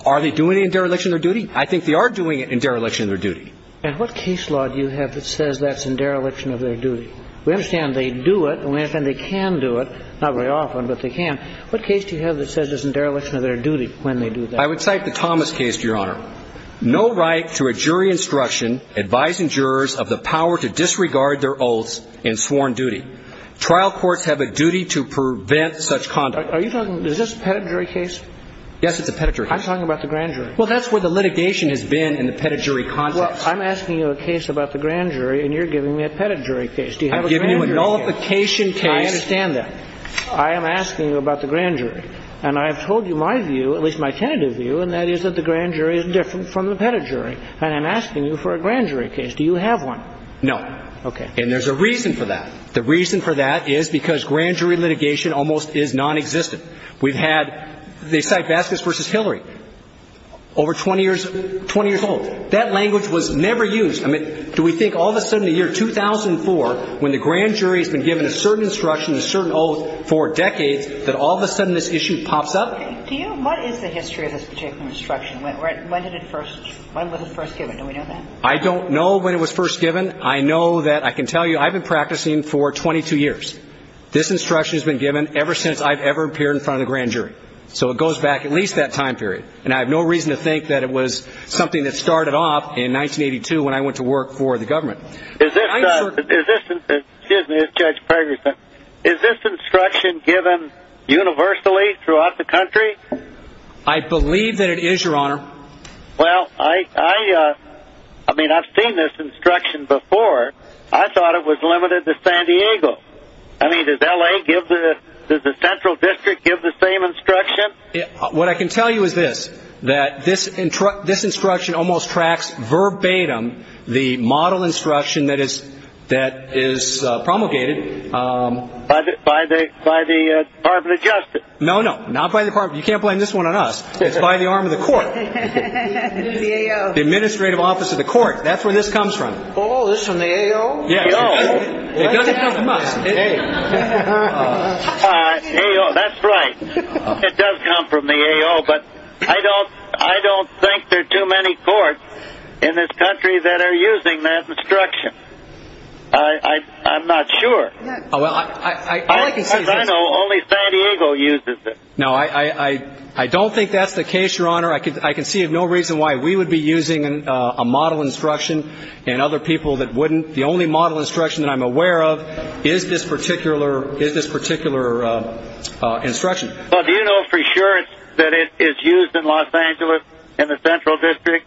Are they doing it in dereliction of their duty? I think they are doing it in dereliction of their duty. And what case law do you have that says that's in dereliction of their duty? We understand they do it, and we understand they can do it, not very often, but they can. What case do you have that says it's in dereliction of their duty when they do that? I would cite the Thomas case, Your Honor. No right to a jury instruction advising jurors of the power to disregard their oaths in sworn duty. Trial courts have a duty to prevent such conduct. Are you talking – is this a pedigree case? Yes, it's a pedigree case. I'm talking about the grand jury. Well, that's where the litigation has been in the pedigree context. Well, I'm asking you a case about the grand jury, and you're giving me a pedigree case. Do you have a grand jury case? I'm giving you a nullification case. I understand that. I am asking you about the grand jury. And I have told you my view, at least my tentative view, and that is that the grand jury is different from the pedigree. And I'm asking you for a grand jury case. Do you have one? No. Okay. And there's a reason for that. The reason for that is because grand jury litigation almost is nonexistent. We've had – they cite Vasquez v. Hillary, over 20 years – 20 years old. That language was never used. I mean, do we think all of a sudden in the year 2004, when the grand jury has been given a certain instruction, a certain oath for decades, that all of a sudden this issue pops up? Do you – what is the history of this particular instruction? When did it first – when was it first given? Do we know that? I don't know when it was first given. I know that – I can tell you I've been practicing for 22 years. This instruction has been given ever since I've ever appeared in front of the grand jury. So it goes back at least that time period. And I have no reason to think that it was something that started off in 1982 when I went to work for the government. Is this instruction given universally throughout the country? I believe that it is, Your Honor. Well, I mean, I've seen this instruction before. I thought it was limited to San Diego. I mean, does L.A. give the – does the central district give the same instruction? What I can tell you is this, that this instruction almost tracks verbatim the model instruction that is promulgated. By the Department of Justice? No, no, not by the Department – you can't blame this one on us. It's by the arm of the court. The AO. The Administrative Office of the Court. That's where this comes from. Oh, this is from the AO? AO? It doesn't come from us. AO, that's right. It does come from the AO, but I don't think there are too many courts in this country that are using that instruction. I'm not sure. As I know, only San Diego uses it. No, I don't think that's the case, Your Honor. I can see no reason why we would be using a model instruction and other people that wouldn't. The only model instruction that I'm aware of is this particular instruction. Well, do you know for sure that it is used in Los Angeles in the central district?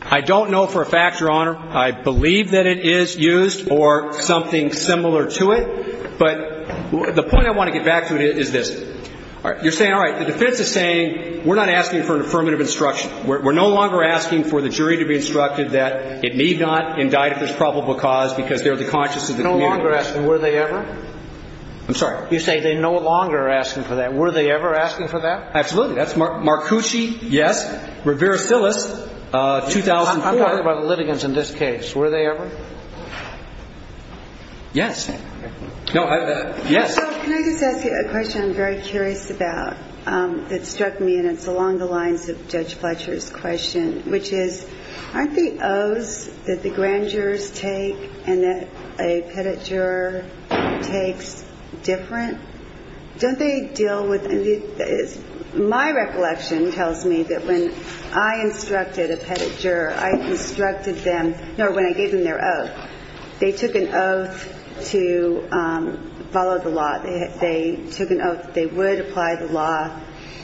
I don't know for a fact, Your Honor. I believe that it is used or something similar to it. But the point I want to get back to is this. You're saying, all right, the defense is saying we're not asking for an affirmative instruction. We're no longer asking for the jury to be instructed that it need not indict if there's probable cause because they're the conscience of the community. No longer asking. Were they ever? I'm sorry? You're saying they no longer are asking for that. Were they ever asking for that? Absolutely. That's Marcucci, yes, Rivera-Silas, 2004. I'm talking about the litigants in this case. Were they ever? Yes. No, yes. So can I just ask you a question I'm very curious about that struck me, and it's along the lines of Judge Fletcher's question, which is aren't the oaths that the grand jurors take and that a pettit juror takes different? Don't they deal with any of these? My recollection tells me that when I instructed a pettit juror, I instructed them, no, when I gave them their oath, they took an oath to follow the law. They took an oath that they would apply the law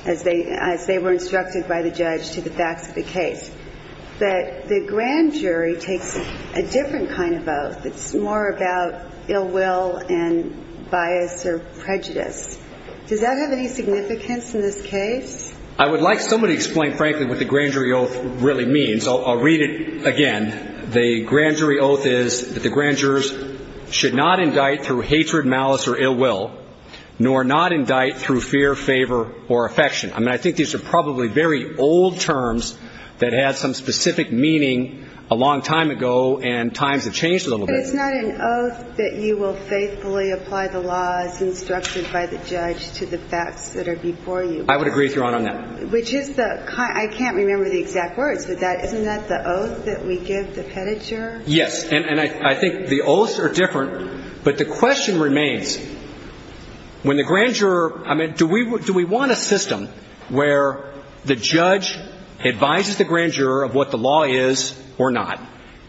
as they were instructed by the judge to the facts of the case. But the grand jury takes a different kind of oath. It's more about ill will and bias or prejudice. Does that have any significance in this case? I would like somebody to explain frankly what the grand jury oath really means. I'll read it again. The grand jury oath is that the grand jurors should not indict through hatred, malice, or ill will, nor not indict through fear, favor, or affection. I mean, I think these are probably very old terms that had some specific meaning a long time ago and times have changed a little bit. But it's not an oath that you will faithfully apply the laws instructed by the judge to the facts that are before you. I would agree with Your Honor on that. I can't remember the exact words for that. Isn't that the oath that we give the petted juror? Yes. And I think the oaths are different. But the question remains, when the grand juror, I mean, do we want a system where the judge advises the grand juror of what the law is or not?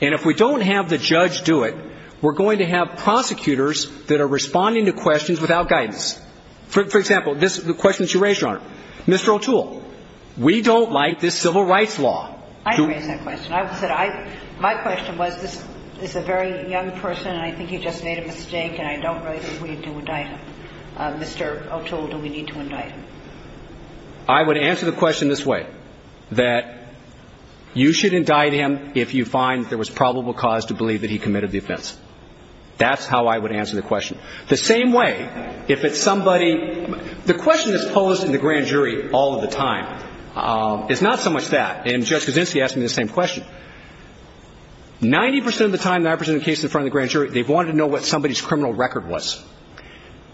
And if we don't have the judge do it, we're going to have prosecutors that are responding to questions without guidance. For example, this is the question that you raised, Your Honor. Mr. O'Toole, we don't like this civil rights law. I didn't raise that question. My question was this is a very young person, and I think he just made a mistake, and I don't really think we need to indict him. Mr. O'Toole, do we need to indict him? I would answer the question this way, that you should indict him if you find there was probable cause to believe that he committed the offense. That's how I would answer the question. The same way, if it's somebody – the question that's posed in the grand jury all of the time is not so much that. And Judge Kuczynski asked me the same question. Ninety percent of the time when I present a case in front of the grand jury, they've wanted to know what somebody's criminal record was.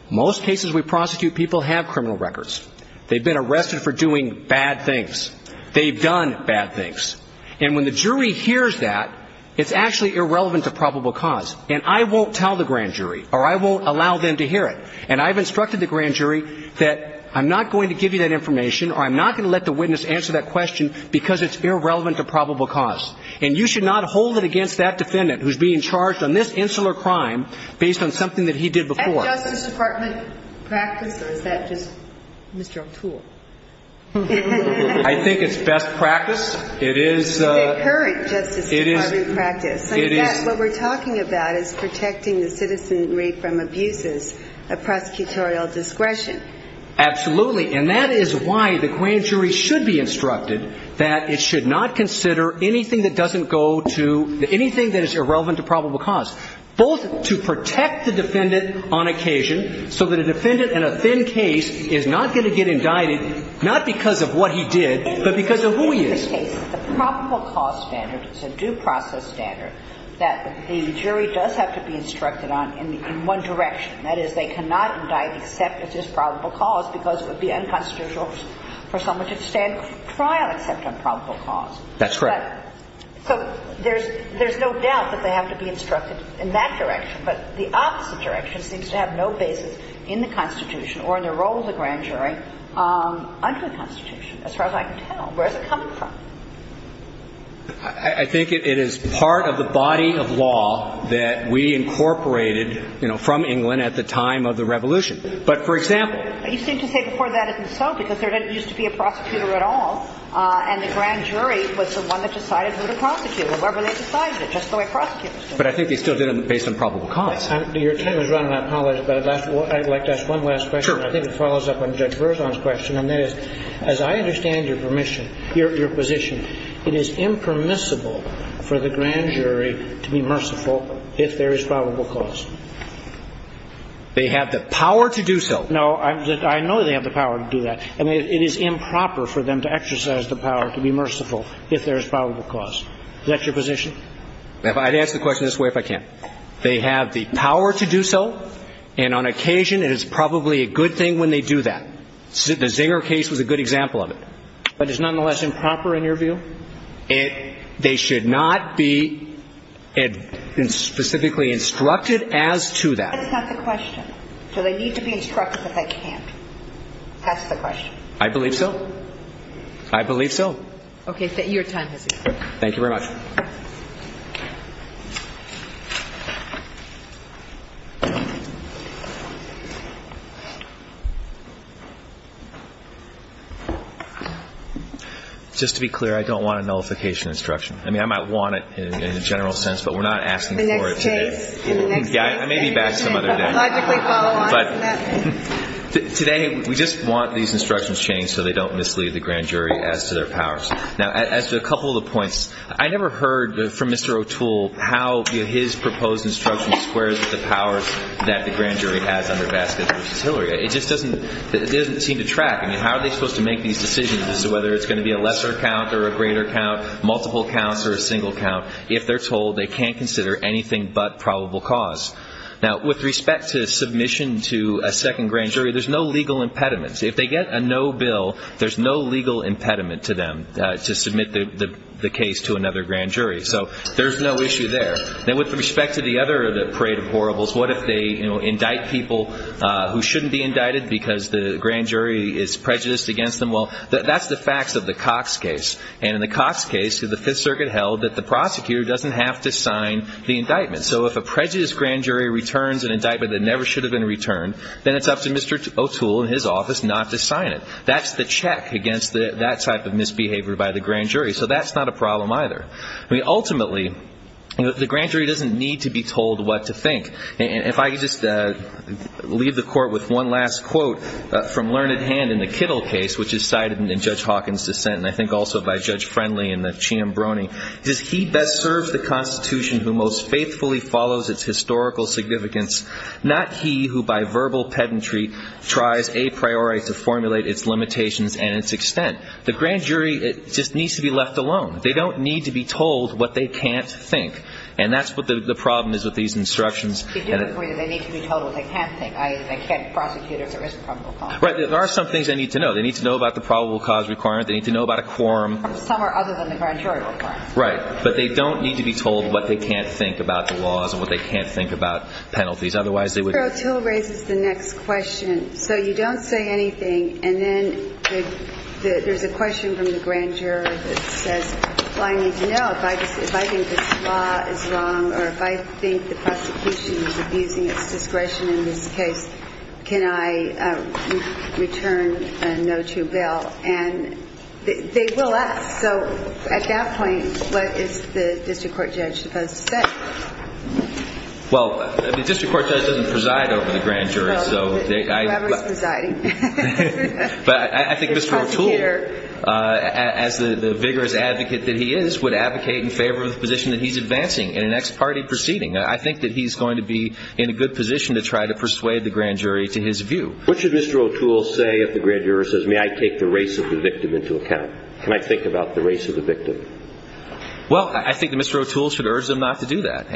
Most cases we prosecute, people have criminal records. They've been arrested for doing bad things. They've done bad things. And when the jury hears that, it's actually irrelevant to probable cause. And I won't tell the grand jury, or I won't allow them to hear it. And I've instructed the grand jury that I'm not going to give you that information, or I'm not going to let the witness answer that question, because it's irrelevant to probable cause. And you should not hold it against that defendant who's being charged on this insular crime based on something that he did before. Is that justice department practice, or is that just Mr. O'Toole? I think it's best practice. It is – It's the current justice department practice. What we're talking about is protecting the citizenry from abuses of prosecutorial discretion. Absolutely. And that is why the grand jury should be instructed that it should not consider anything that doesn't go to anything that is irrelevant to probable cause, both to protect the defendant on occasion so that a defendant in a thin case is not going to get indicted, not because of what he did, but because of who he is. In this case, the probable cause standard is a due process standard that the jury does have to be instructed on in one direction. That is, they cannot indict except if it's probable cause because it would be unconstitutional for someone to stand trial except on probable cause. That's right. So there's no doubt that they have to be instructed in that direction, but the opposite direction seems to have no basis in the Constitution or in the role of the grand jury under the Constitution, as far as I can tell. Where is it coming from? I think it is part of the body of law that we incorporated, you know, from England at the time of the Revolution. But, for example – You seem to say before that isn't so, because there didn't used to be a prosecutor at all, and the grand jury was the one that decided who to prosecute, whoever they decided, just the way prosecutors do. But I think they still did it based on probable cause. Your time is running out, apologies, but I'd like to ask one last question. Sure. I think it follows up on Judge Berzon's question, and that is, as I understand your permission, your position, it is impermissible for the grand jury to be merciful if there is probable cause. They have the power to do so. No, I know they have the power to do that. I mean, it is improper for them to exercise the power to be merciful if there is probable cause. Is that your position? I'd answer the question this way if I can. They have the power to do so, and on occasion it is probably a good thing when they do that. The Zinger case was a good example of it. But it's nonetheless improper in your view? They should not be specifically instructed as to that. That's not the question. Do they need to be instructed that they can't? That's the question. I believe so. I believe so. Okay. Your time has expired. Thank you very much. Just to be clear, I don't want a nullification instruction. I mean, I might want it in a general sense, but we're not asking for it today. In the next case? Yeah, I may be back some other day. Logically, follow on from that. Today, we just want these instructions changed so they don't mislead the grand jury as to their powers. Now, as to a couple of the points, I never heard from Mr. O'Toole how his proposal to have the grand jury squares with the powers that the grand jury has under Vasquez v. Hillary. It just doesn't seem to track. I mean, how are they supposed to make these decisions as to whether it's going to be a lesser count or a greater count, multiple counts or a single count if they're told they can't consider anything but probable cause? Now, with respect to submission to a second grand jury, there's no legal impediment. If they get a no bill, there's no legal impediment to them to submit the case to another grand jury. So there's no issue there. Now, with respect to the other parade of horribles, what if they indict people who shouldn't be indicted because the grand jury is prejudiced against them? Well, that's the facts of the Cox case. And in the Cox case, the Fifth Circuit held that the prosecutor doesn't have to sign the indictment. So if a prejudiced grand jury returns an indictment that never should have been returned, then it's up to Mr. O'Toole and his office not to sign it. That's the check against that type of misbehavior by the grand jury. So that's not a problem either. I mean, ultimately, the grand jury doesn't need to be told what to think. And if I could just leave the Court with one last quote from learned hand in the Kittle case, which is cited in Judge Hawkins' dissent and I think also by Judge Friendly and the Chiambrone, it says, He best serves the Constitution who most faithfully follows its historical significance, not he who by verbal pedantry tries a priori to formulate its limitations and its extent. The grand jury just needs to be left alone. They don't need to be told what they can't think. And that's what the problem is with these instructions. They need to be told what they can't think, i.e., they can't prosecute if there is a probable cause. Right. There are some things they need to know. They need to know about the probable cause requirement. They need to know about a quorum. Some are other than the grand jury requirements. Right. But they don't need to be told what they can't think about the laws and what they can't think about penalties. Otherwise, they would. Mr. O'Toole raises the next question. So you don't say anything. And then there's a question from the grand jury that says, Well, I need to know if I think this law is wrong or if I think the prosecution is abusing its discretion in this case, can I return a no to bail? And they will ask. So at that point, what is the district court judge supposed to say? Well, the district court judge doesn't preside over the grand jury. Whoever is presiding. But I think Mr. O'Toole, as the vigorous advocate that he is, would advocate in favor of the position that he's advancing in an ex parte proceeding. I think that he's going to be in a good position to try to persuade the grand jury to his view. What should Mr. O'Toole say if the grand jury says, May I take the race of the victim into account? Can I think about the race of the victim? Well, I think that Mr. O'Toole should urge them not to do that.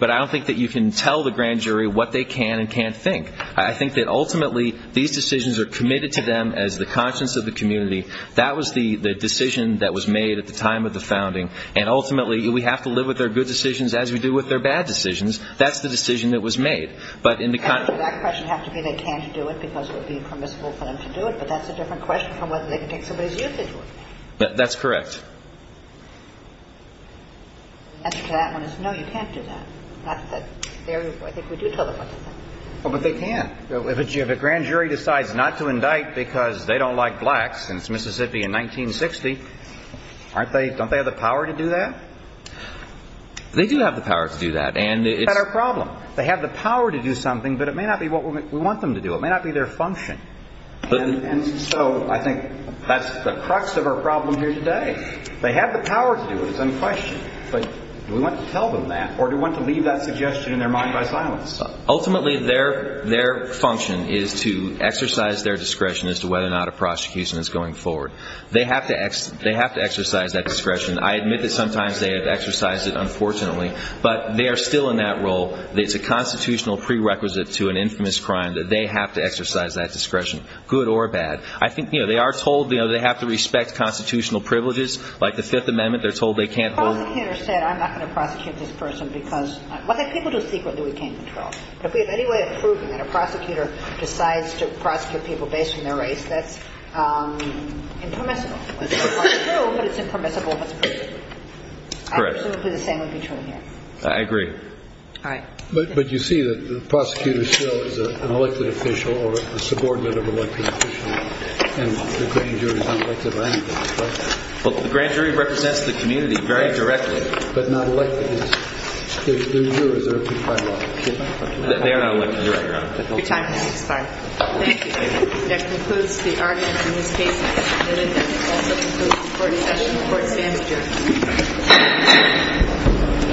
But I don't think that you can tell the grand jury what they can and can't think. I think that ultimately these decisions are committed to them as the conscience of the community. That was the decision that was made at the time of the founding. And ultimately we have to live with their good decisions as we do with their bad decisions. That's the decision that was made. But in the context of that question, it has to be they can't do it because it would be impermissible for them to do it. But that's a different question from whether they can take somebody's youth into account. That's correct. The answer to that one is no, you can't do that. I think we do tell them what to do. But they can't. If a grand jury decides not to indict because they don't like blacks since Mississippi in 1960, don't they have the power to do that? They do have the power to do that. That's not our problem. They have the power to do something, but it may not be what we want them to do. It may not be their function. And so I think that's the crux of our problem here today. They have the power to do it. It's unquestioned. But do we want to tell them that or do we want to leave that suggestion in their mind by silence? Ultimately, their function is to exercise their discretion as to whether or not a prosecution is going forward. They have to exercise that discretion. I admit that sometimes they have exercised it, unfortunately. But they are still in that role. It's a constitutional prerequisite to an infamous crime that they have to exercise that discretion, good or bad. I think they are told they have to respect constitutional privileges. Like the Fifth Amendment, they're told they can't hold. The prosecutor said I'm not going to prosecute this person because people do it secretly. We can't control it. But if we have any way of proving that a prosecutor decides to prosecute people based on their race, that's impermissible. It's not true, but it's impermissible, but it's permissible. Correct. I presume the same would be true here. I agree. All right. But you see that the prosecutor still is an elected official or a subordinate of an elected official, and the grand jury is not elected by any means. Well, the grand jury represents the community very directly. But not elected. They're not elected directly. Your time has expired. Thank you. That concludes the argument in this case. And it also concludes the court session. The court stands adjourned. Thank you. Thank you. Thank you.